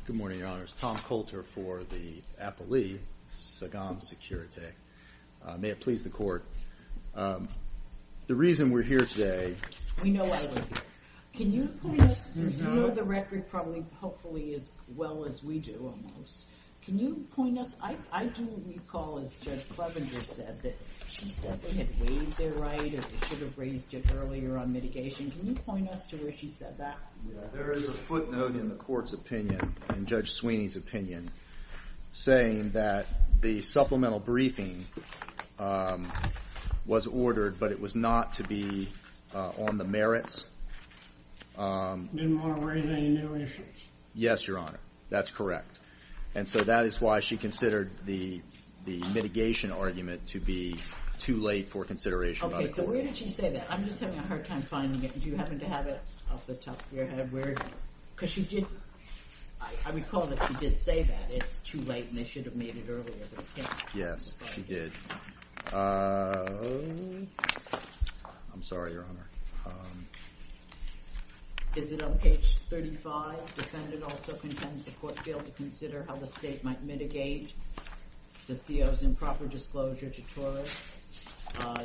Good morning, Your Honors. Tom Coulter for the appellee, Sagam Securitate. May it please the court. The reason we're here today- We know why you're here. Can you point us- You know the record probably, hopefully as well as we do almost. Can you point us- I do recall, as Judge Clevenger said, that she said we had waived their right and should have raised it earlier on mitigation. Can you point us to where she said that? There is a footnote in the court's opinion, in Judge Sweeney's opinion, saying that the supplemental briefing was ordered, but it was not to be on the merits. No more briefing, no issues. Yes, Your Honor. That's correct. And so that is why she considered the mitigation argument to be too late for consideration by the court. Okay, so where did she say that? I'm just having a hard time finding it. Do you happen to have it off the top of your head? Because she did- I recall that she did say that it's too late and they should have made it earlier. Yes, she did. I'm sorry, Your Honor. Is it on page 35? Defendant also contends the court failed to consider how the state might mitigate the CO's improper disclosure to TOR.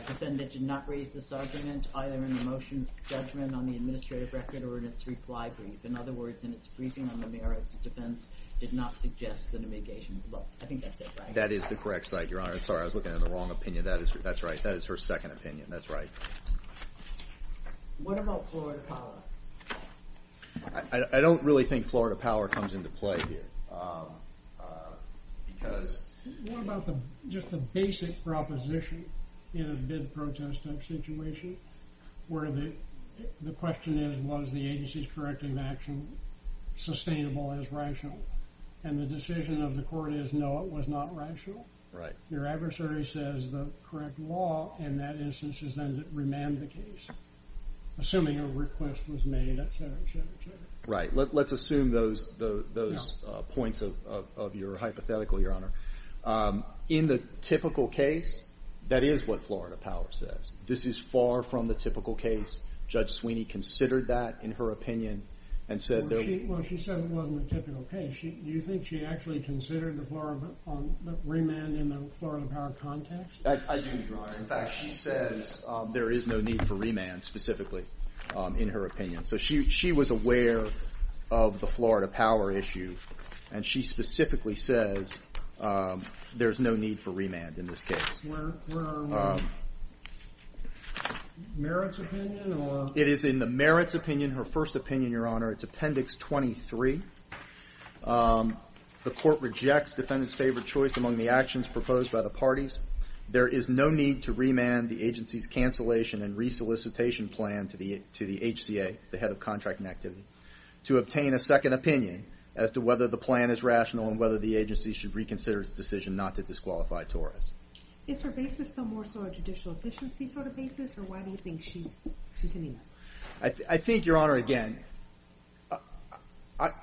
Defendant did not raise this argument, either in a motion judgment on the administrative record or in its reply brief. In other words, in its briefing on the merits defense, did not suggest that a mitigation- Well, I think that's it, right? That is the correct site, Your Honor. I'm sorry, I was looking at the wrong opinion. That's right. That is her second opinion. That's right. What about Florida Power? I don't really think Florida Power comes into play here because- What about just the basic proposition in a bid protest type situation where the question is, was the agency's corrective action sustainable as rational? And the decision of the court is, no, it was not rational. Right. Your adversary says the correct law in that instance is then to remand the case, assuming a request was made, et cetera, et cetera, et cetera. Right. Let's assume those points of your hypothetical, Your Honor. In the typical case, that is what Florida Power says. This is far from the typical case. Judge Sweeney considered that, in her opinion, and said- Well, she said it wasn't a typical case. Do you think she actually considered the remand in the Florida Power context? I do, Your Honor. In fact, she says there is no need for remand, specifically, in her opinion. So she was aware of the Florida Power issue, and she specifically says there is no need for remand in this case. Where are we? Merit's opinion, or- It is in the Merit's opinion, her first opinion, Your Honor. It's Appendix 23. The court rejects defendant's favored choice among the actions proposed by the parties. There is no need to remand the agency's cancellation and resolicitation plan to the HCA, the head of contracting activity, to obtain a second opinion as to whether the plan is rational and whether the agency should reconsider its decision not to disqualify tourists. Is her basis no more so a judicial efficiency sort of basis, or why do you think she's continuing? I think, Your Honor, again,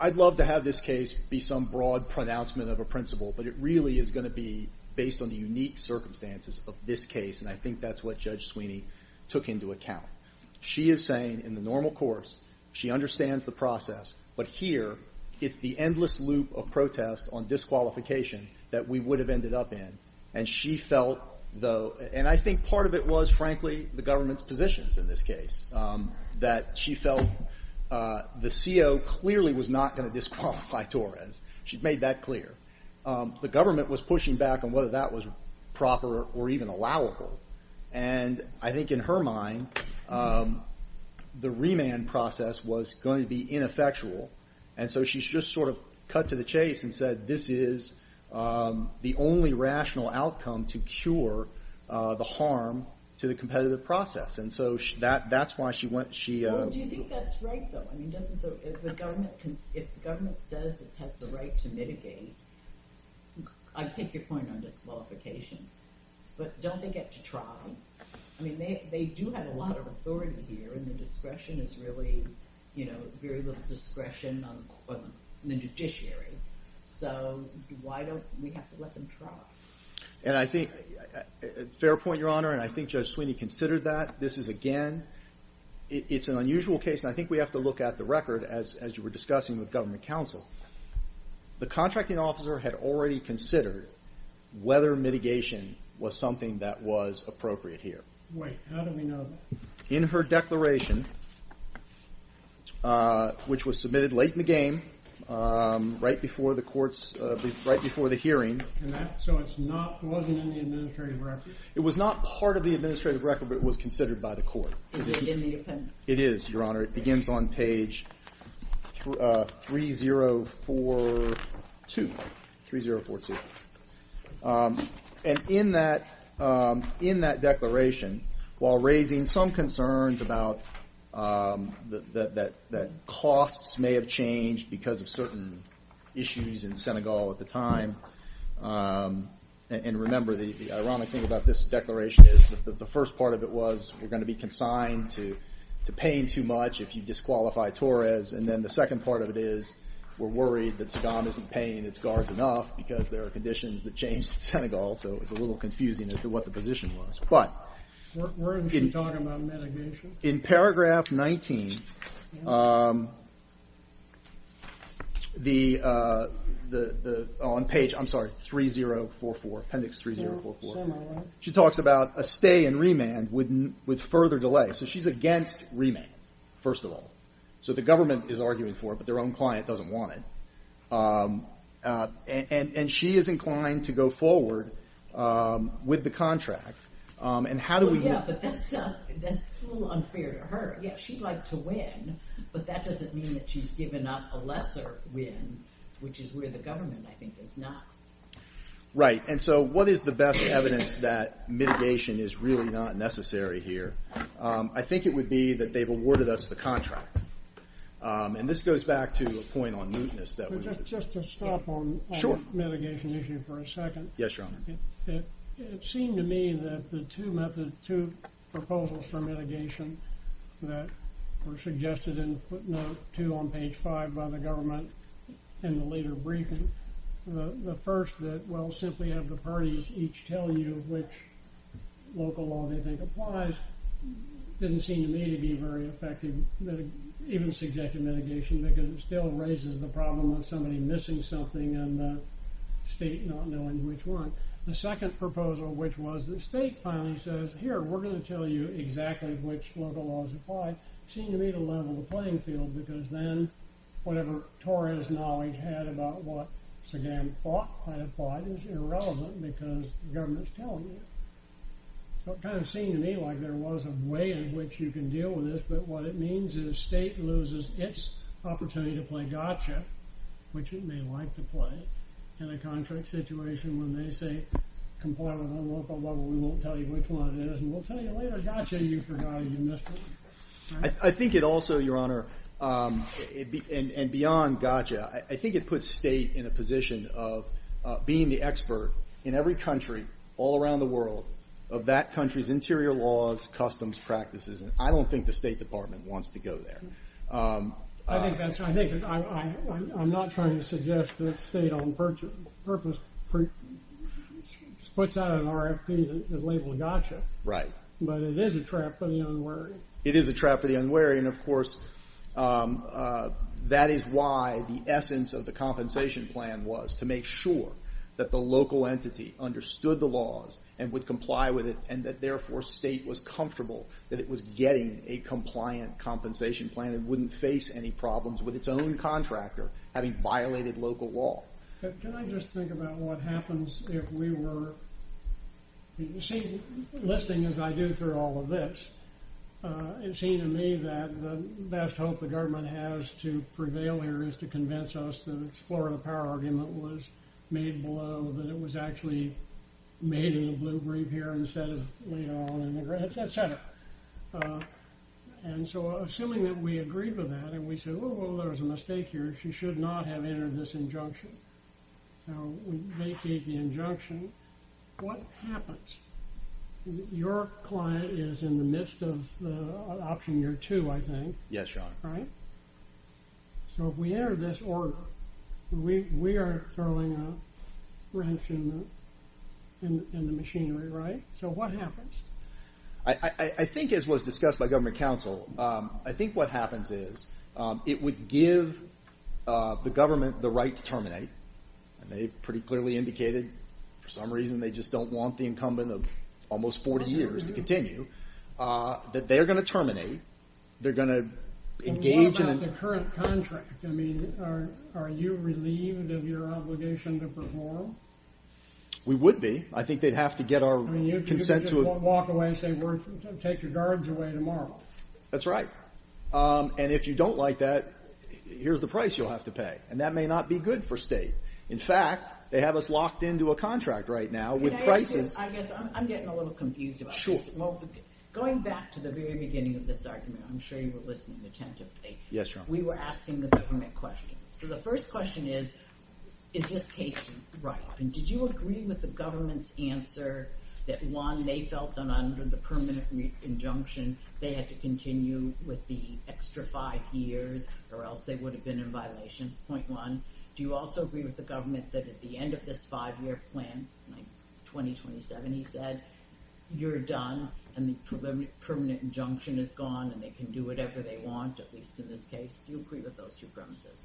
I'd love to have this case be some broad pronouncement of a principle, but it really is going to be based on the unique circumstances of this case, and I think that's what Judge Sweeney took into account. She is saying, in the normal course, she understands the process, but here it's the endless loop of protest on disqualification that we would have ended up in, and she felt, though, and I think part of it was, frankly, the government's positions in this case, that she felt the CO clearly was not going to disqualify Torres. She made that clear. The government was pushing back on whether that was proper or even allowable, and I think in her mind, the remand process was going to be ineffectual, and so she just sort of cut to the chase and said, this is the only rational outcome to cure the harm to the competitive process, and so that's why she went. Well, do you think that's right, though? I mean, if the government says it has the right to mitigate, I take your point on disqualification, but don't they get to try? I mean, they do have a lot of authority here, and the discretion is really, you know, very little discretion on the judiciary, so why don't we have to let them try? Fair point, Your Honor, and I think Judge Sweeney considered that. This is, again, it's an unusual case, and I think we have to look at the record, as you were discussing with government counsel. The contracting officer had already considered whether mitigation was something that was appropriate here. Wait, how do we know that? In her declaration, which was submitted late in the game, right before the hearing. So it wasn't in the administrative record? It was not part of the administrative record, but it was considered by the court. Is it in the appendix? It is, Your Honor. It begins on page 3042, 3042. And in that declaration, while raising some concerns about that costs may have changed because of certain issues in Senegal at the time, and remember the ironic thing about this declaration is that the first part of it was we're going to be consigned to paying too much if you disqualify Torres, and then the second part of it is we're worried that Saddam isn't paying its guards enough because there are conditions that changed in Senegal, so it's a little confusing as to what the position was. But in paragraph 19, on page 3044, appendix 3044, she talks about a stay in remand with further delay. So she's against remand, first of all. So the government is arguing for it, but their own client doesn't want it. And she is inclined to go forward with the contract. And how do we... Well, yeah, but that's a little unfair to her. Yeah, she'd like to win, but that doesn't mean that she's given up a lesser win, which is where the government, I think, is not. Right, and so what is the best evidence that mitigation is really not necessary here? I think it would be that they've awarded us the contract. And this goes back to a point on mootness. Just to stop on the mitigation issue for a second. Yes, Your Honor. It seemed to me that the two proposals for mitigation that were suggested in footnote 2 on page 5 by the government in the later briefing, the first that, well, simply have the parties each tell you which local law they think applies, didn't seem to me to be very effective, even suggested mitigation, because it still raises the problem of somebody missing something and the state not knowing which one. The second proposal, which was the state finally says, here, we're going to tell you exactly which local laws apply, seemed to me to level the playing field, because then whatever Torres' knowledge had about what Sagan thought might apply seems irrelevant because the government's telling you. So it kind of seemed to me like there was a way in which you can deal with this, but what it means is state loses its opportunity to play gotcha, which it may like to play, in a contract situation when they say, comply with our local law, but we won't tell you which one it is, and we'll tell you later, gotcha, you forgot, you missed it. I think it puts state in a position of being the expert in every country all around the world of that country's interior laws, customs, practices, and I don't think the State Department wants to go there. I'm not trying to suggest that state on purpose puts out an RFP that labels gotcha, but it is a trap for the unwary. It is a trap for the unwary, and of course that is why the essence of the compensation plan was to make sure that the local entity understood the laws and would comply with it, and that therefore state was comfortable that it was getting a compliant compensation plan and wouldn't face any problems with its own contractor having violated local law. Can I just think about what happens if we were, you see, listening as I do through all of this, it seemed to me that the best hope the government has to prevail here is to convince us that its Florida power argument was made below, that it was actually made in the blue brief here instead of laid out in the red, et cetera. And so assuming that we agreed with that and we said, oh, there's a mistake here, she should not have entered this injunction. Now, we vacate the injunction. What happens? Your client is in the midst of option year two, I think. Yes, Your Honor. Right? So if we enter this order, we are throwing a wrench in the machinery, right? So what happens? I think as was discussed by government counsel, I think what happens is it would give the government the right to terminate, and they pretty clearly indicated for some reason they just don't want the incumbent of almost 40 years to continue, that they're going to terminate, they're going to engage in a... And what about the current contract? I mean, are you relieved of your obligation to perform? We would be. I think they'd have to get our consent to... I mean, you could just walk away and say, take your guards away tomorrow. That's right. And if you don't like that, here's the price you'll have to pay. And that may not be good for state. In fact, they have us locked into a contract right now with prices... Can I ask you, I guess I'm getting a little confused about this. Sure. Well, going back to the very beginning of this argument, I'm sure you were listening attentively. Yes, Your Honor. We were asking the government questions. So the first question is, is this case right? And did you agree with the government's answer that one, they felt that under the permanent injunction they had to continue with the extra five years or else they would have been in violation, point one? Do you also agree with the government that at the end of this five-year plan, like 2027, he said, you're done and the permanent injunction is gone and they can do whatever they want, at least in this case? Do you agree with those two premises?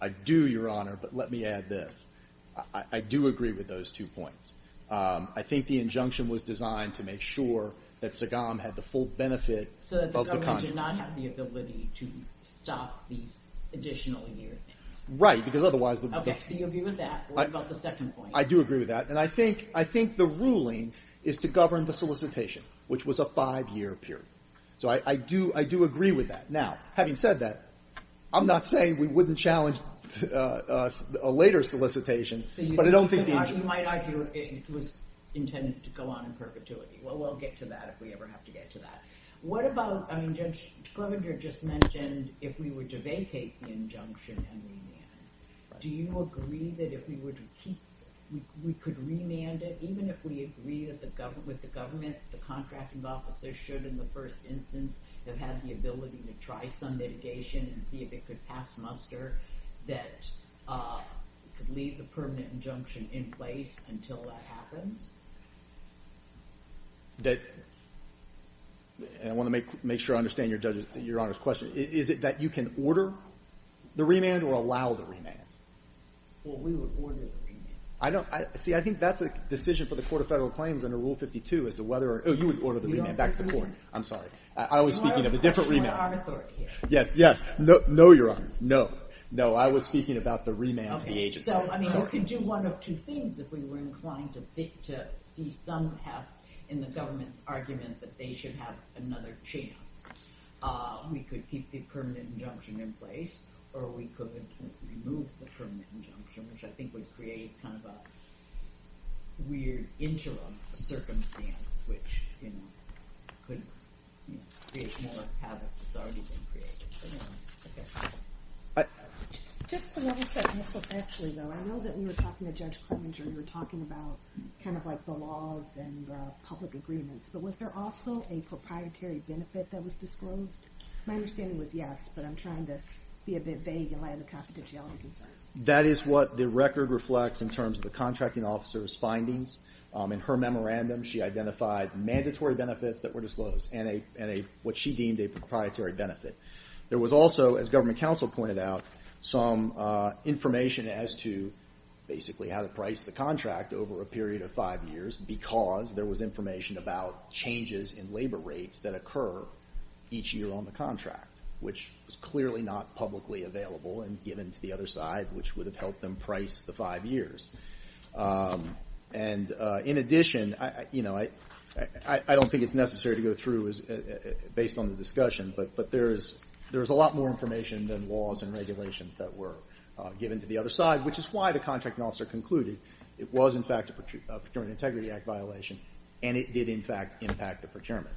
I do, Your Honor, but let me add this. I do agree with those two points. I think the injunction was designed to make sure that Sagam had the full benefit of the contract. So that the government did not have the ability to stop these additional years. Right, because otherwise... Okay, so you agree with that. What about the second point? I do agree with that. And I think the ruling is to govern the solicitation, which was a five-year period. So I do agree with that. Now, having said that, I'm not saying we wouldn't challenge a later solicitation, but I don't think the injunction... So you might argue it was intended to go on in perpetuity. Well, we'll get to that if we ever have to get to that. What about, I mean, Judge Klovenger just mentioned if we were to vacate the injunction and remand, do you agree that if we were to keep it, we could remand it even if we agree with the government, the contracting officer should, in the first instance, have had the ability to try some mitigation and see if it could pass muster that could leave the permanent injunction in place until that happens? That... And I want to make sure I understand Your Honor's question. Is it that you can order the remand or allow the remand? Well, we would order the remand. I don't... See, I think that's a decision for the Court of Federal Claims under Rule 52 as to whether... Oh, you would order the remand back to the Court. I'm sorry. I was speaking of a different remand. Yes, yes. No, Your Honor. No. No, I was speaking about the remand to the agency. So, I mean, we could do one of two things if we were inclined to see some path in the government's argument that they should have another chance. We could keep the permanent injunction in place or we could remove the permanent injunction, which I think would create kind of a weird interim circumstance, which, you know, could create more havoc that's already been created. But, you know, I guess... I... Just to level check, Mr. Fletcher, though, I know that we were talking to Judge Clemenger. You were talking about kind of like the laws and the public agreements, but was there also a proprietary benefit that was disclosed? My understanding was yes, but I'm trying to be a bit vague in light of the confidentiality concerns. That is what the record reflects in terms of the contracting officer's findings. In her memorandum, she identified mandatory benefits that were disclosed and what she deemed a proprietary benefit. There was also, as government counsel pointed out, some information as to basically how to price the contract over a period of five years because there was information about changes in labor rates that occur each year on the contract, which was clearly not publicly available and given to the other side, which would have helped them price the five years. And in addition, you know, I don't think it's necessary to go through based on the discussion, but there's a lot more information than laws and regulations that were given to the other side, which is why the contracting officer concluded it was, in fact, a Procurement Integrity Act violation and it did, in fact, impact the procurement.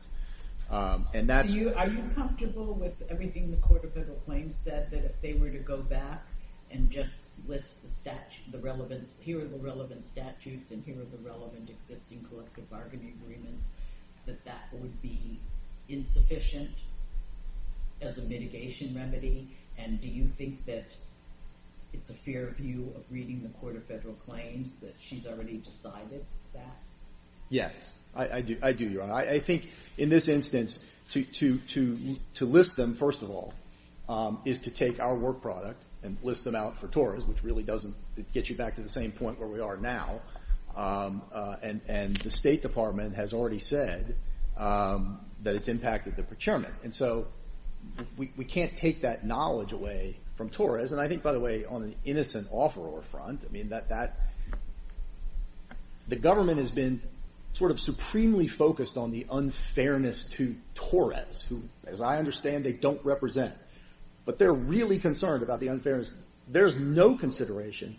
And that's... Are you comfortable with everything the Court of Federal Claims said, that if they were to go back and just list the relevant statutes and here are the relevant existing collective bargaining agreements, that that would be insufficient as a mitigation remedy? And do you think that it's a fair view of reading the Court of Federal Claims that she's already decided that? Yes, I do, Your Honor. I think, in this instance, to list them, first of all, is to take our work product and list them out for TORES, which really doesn't get you back to the same point where we are now. And the State Department has already said that it's impacted the procurement. And so we can't take that knowledge away from TORES. And I think, by the way, on an innocent offeror front, I mean, that... The State Department has been sort of supremely focused on the unfairness to TORES, who, as I understand, they don't represent. But they're really concerned about the unfairness. There's no consideration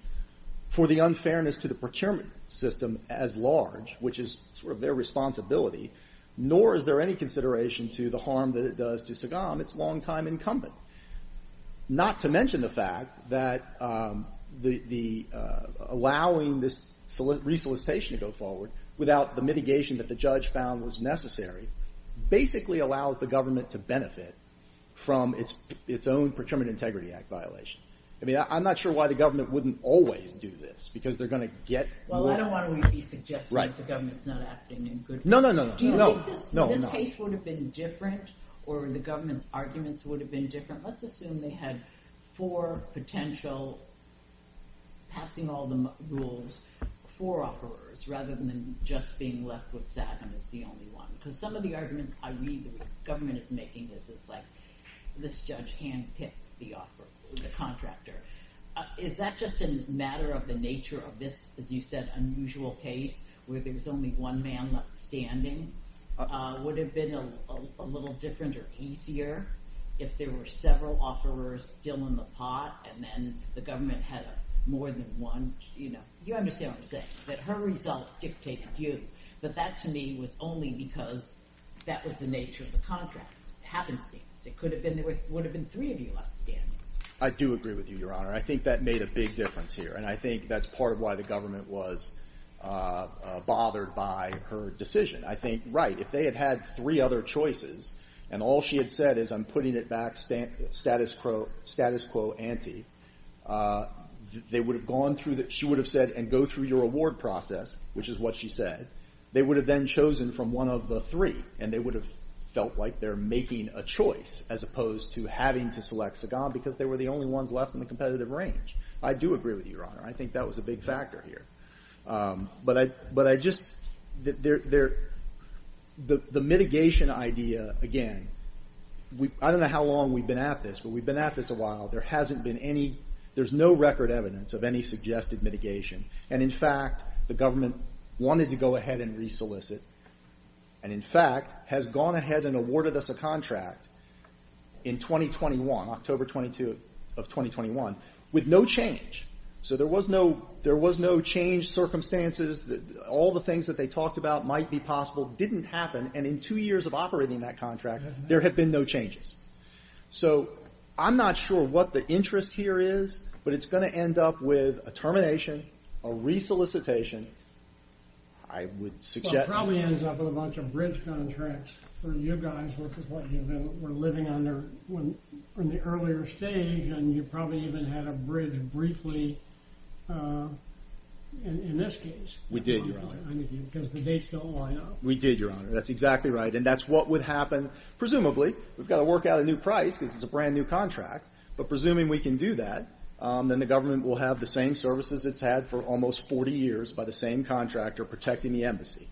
for the unfairness to the procurement system as large, which is sort of their responsibility, nor is there any consideration to the harm that it does to Sagam. It's longtime incumbent. Not to mention the fact that the... Without the mitigation that the judge found was necessary, basically allows the government to benefit from its own Procurement Integrity Act violation. I mean, I'm not sure why the government wouldn't always do this, because they're going to get... Well, I don't want to be suggesting that the government's not acting in good faith. No, no, no, no. Do you think this case would have been different, or the government's arguments would have been different? Let's assume they had four potential... four offerers, rather than just being left with Sagam as the only one. Because some of the arguments I read that the government is making is, like, this judge hand-picked the contractor. Is that just a matter of the nature of this, as you said, unusual case, where there's only one man standing? Would it have been a little different or easier if there were several offerers still in the pot, and then the government had more than one... You know, you understand what I'm saying, that her result dictated you. But that, to me, was only because that was the nature of the contract. It happens to be. It would have been three of you left standing. I do agree with you, Your Honor. I think that made a big difference here, and I think that's part of why the government was bothered by her decision. I think, right, if they had had three other choices, and all she had said is, I'm putting it back, status quo ante, they would have gone through... She would have said, and go through your award process, which is what she said. They would have then chosen from one of the three, and they would have felt like they're making a choice as opposed to having to select Sagan because they were the only ones left in the competitive range. I do agree with you, Your Honor. I think that was a big factor here. But I just... The mitigation idea, again, I don't know how long we've been at this, but we've been at this a while. There hasn't been any... There's no record evidence of any suggested mitigation. And in fact, the government wanted to go ahead and re-solicit, and in fact has gone ahead and awarded us a contract in 2021, October 22 of 2021, with no change. So there was no change circumstances. All the things that they talked about might be possible didn't happen, and in two years of operating that contract, there have been no changes. So I'm not sure what the interest here is, but it's going to end up with a termination, a re-solicitation. I would suggest... Well, it probably ends up with a bunch of bridge contracts for you guys, which is what you were living under in the earlier stage, and you probably even had a bridge briefly, in this case. We did, Your Honor. Because the dates don't line up. We did, Your Honor. That's exactly right. And that's what would happen, presumably. We've got to work out a new price, because it's a brand new contract. But presuming we can do that, then the government will have the same services it's had for almost 40 years by the same contractor protecting the embassy.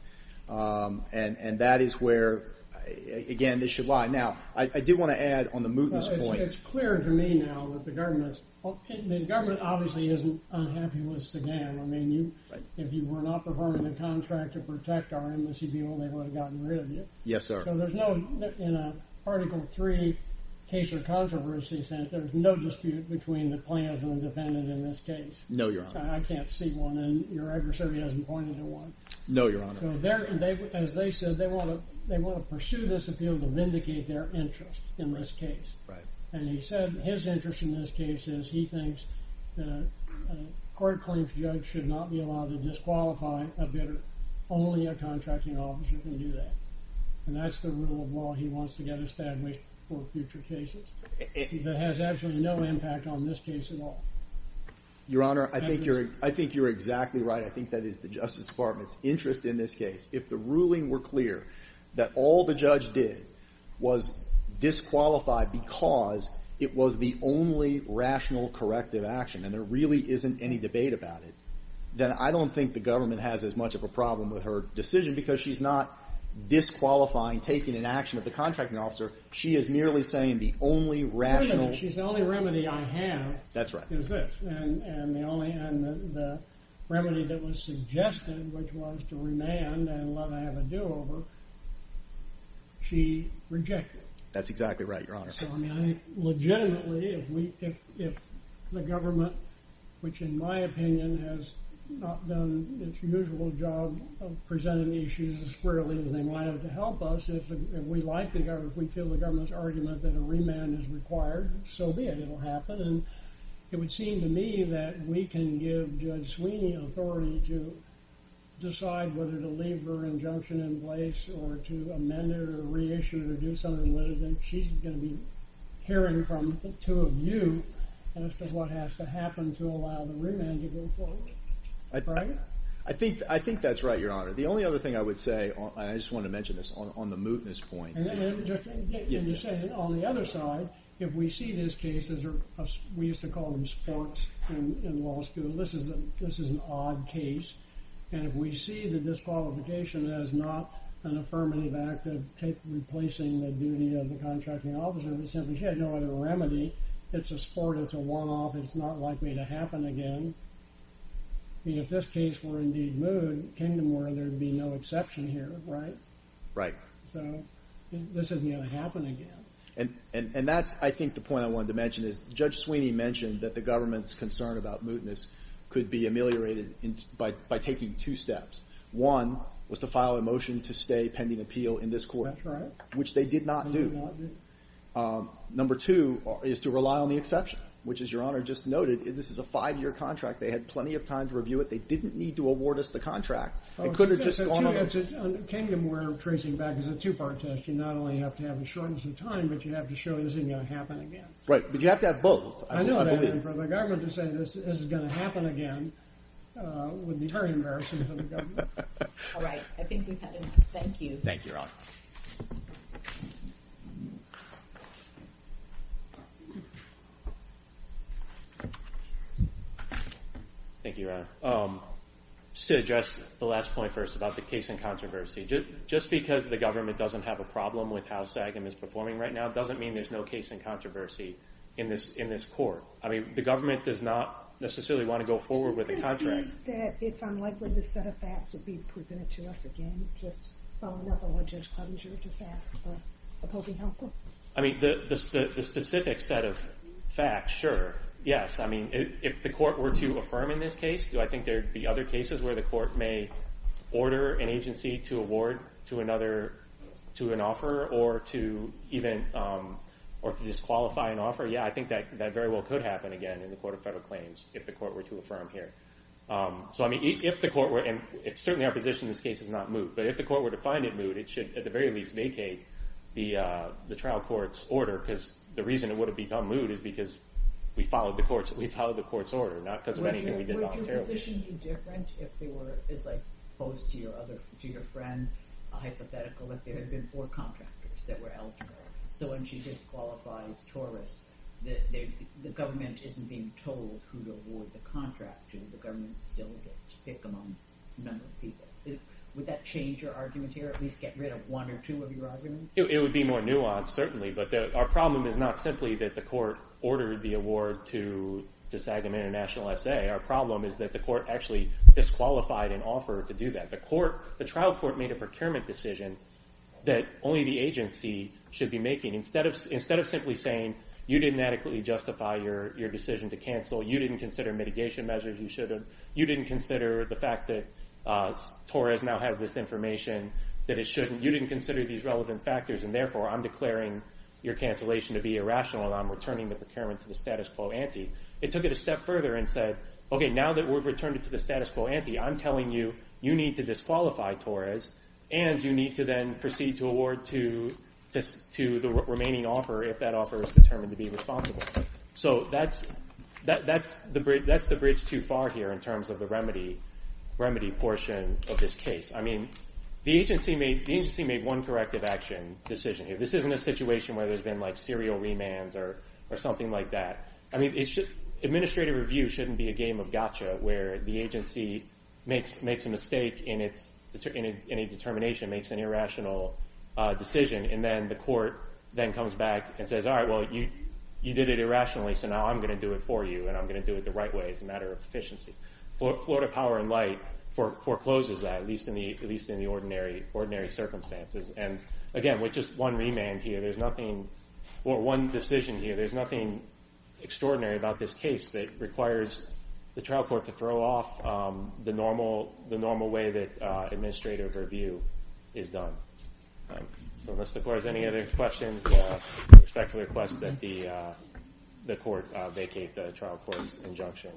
And that is where, again, this should lie. Now, I did want to add on the mootness point. It's clear to me now that the government's... The government obviously isn't unhappy with Sagan. I mean, if you were not performing the contract to protect our embassy people, they would have gotten rid of you. Yes, sir. So there's no... In an Article 3 case of controversy, there's no dispute between the plaintiff and the defendant in this case. No, Your Honor. I can't see one, and your adversary hasn't pointed to one. No, Your Honor. As they said, they want to pursue this appeal to vindicate their interest in this case. And he said his interest in this case is that he thinks a court-claimed judge should not be allowed to disqualify a bidder. Only a contracting officer can do that. And that's the rule of law he wants to get established for future cases. It has absolutely no impact on this case at all. Your Honor, I think you're exactly right. I think that is the Justice Department's interest in this case. If the ruling were clear that all the judge did was disqualify because it was the only rational, corrective action, and there really isn't any debate about it, then I don't think the government has as much of a problem with her decision because she's not disqualifying taking an action of the contracting officer. She is merely saying the only rational... The only remedy I have is this. That's right. And the remedy that was suggested, which was to remand and let her have a do-over, she rejected. That's exactly right, Your Honor. So, I mean, I think, legitimately, if the government, which, in my opinion, has not done its usual job of presenting the issues as clearly as they might have to help us, if we like the government, if we feel the government's argument that a remand is required, so be it. It'll happen. And it would seem to me that we can give Judge Sweeney authority to decide whether to leave her injunction in place or to amend it or reissue it or do something with it. And she's going to be hearing from the two of you as to what has to happen to allow the remand to go forward. Right? I think that's right, Your Honor. The only other thing I would say, and I just want to mention this, on the mootness point... And you say, on the other side, if we see this case as... We used to call them sparks in law school. This is an odd case. And if we see the disqualification as not an affirmative act of replacing the duty of the contracting officer, we simply had no other remedy. It's a sport, it's a one-off, it's not likely to happen again. I mean, if this case were indeed moot, there'd be no exception here, right? Right. So this isn't going to happen again. And that's, I think, the point I wanted to mention, is Judge Sweeney mentioned that the government's concern about mootness could be ameliorated by taking two steps. One was to file a motion to stay pending appeal in this court. That's right. Which they did not do. Number two is to rely on the exception, which, as Your Honor just noted, this is a five-year contract. They had plenty of time to review it. They didn't need to award us the contract. It could have just gone on. It's a two-part test. You not only have to have a shortness of time, but you have to show this isn't going to happen again. Right, but you have to have both. I know, but for the government to say this is going to happen again would be very embarrassing for the government. All right, I think we've had enough. Thank you. Thank you, Your Honor. Thank you, Your Honor. Just to address the last point first about the case in controversy. Just because the government doesn't have a problem with how SAGM is performing right now doesn't mean there's no case in controversy in this court. The government does not necessarily want to go forward with the contract. Do you think that it's unlikely the set of facts would be presented to us again, just following up on what Judge Cluttinger just asked for opposing counsel? The specific set of facts, sure. Yes. If the court were to affirm in this case, do I think there would be other cases where the court may order an agency to award to another, to an offeror, or to disqualify an offeror? Yeah, I think that very well could happen again in the Court of Federal Claims if the court were to affirm here. If the court were, and certainly our position in this case is not moot, but if the court were to find it moot, it should at the very least vacate the trial court's order because the reason it would have become moot is because we followed the court's order, not because of anything we did not care about. Would your position be different if there were, as I posed to your friend, a hypothetical, if there had been four contractors that were eligible, so when she disqualifies Torres, the government isn't being told who to award the contract and the government still gets to pick among a number of people. Would that change your argument here, at least get rid of one or two of your arguments? It would be more nuanced, certainly, but our problem is not simply that the court ordered the award to Sagamayor International SA. Our problem is that the court actually disqualified an offer to do that. The trial court made a procurement decision that only the agency should be making. Instead of simply saying, you didn't adequately justify your decision to cancel, you didn't consider mitigation measures, you didn't consider the fact that Torres now has this information that it shouldn't, you didn't consider these relevant factors, and therefore I'm declaring your cancellation to be irrational and I'm returning the procurement to the status quo ante. It took it a step further and said, okay, now that we've returned it to the status quo ante, I'm telling you, you need to disqualify Torres and you need to then proceed to award to the remaining offer if that offer is determined to be responsible. So that's the bridge too far here in terms of the remedy portion of this case. The agency made one corrective action decision. This isn't a situation where there's been serial remands or something like that. Administrative review shouldn't be a game of gotcha where the agency makes a mistake in a determination, makes an irrational decision, and then the court comes back and says, you did it irrationally, so now I'm going to do it for you and I'm going to do it the right way as a matter of efficiency. Florida Power & Light forecloses that, at least in the ordinary circumstances. Again, with just one remand here, there's nothing, or one decision here, there's nothing extraordinary about this case that requires the trial court to throw off the normal way that administrative review is done. So unless the court has any other questions, I respectfully request that the court vacate the trial court's injunction.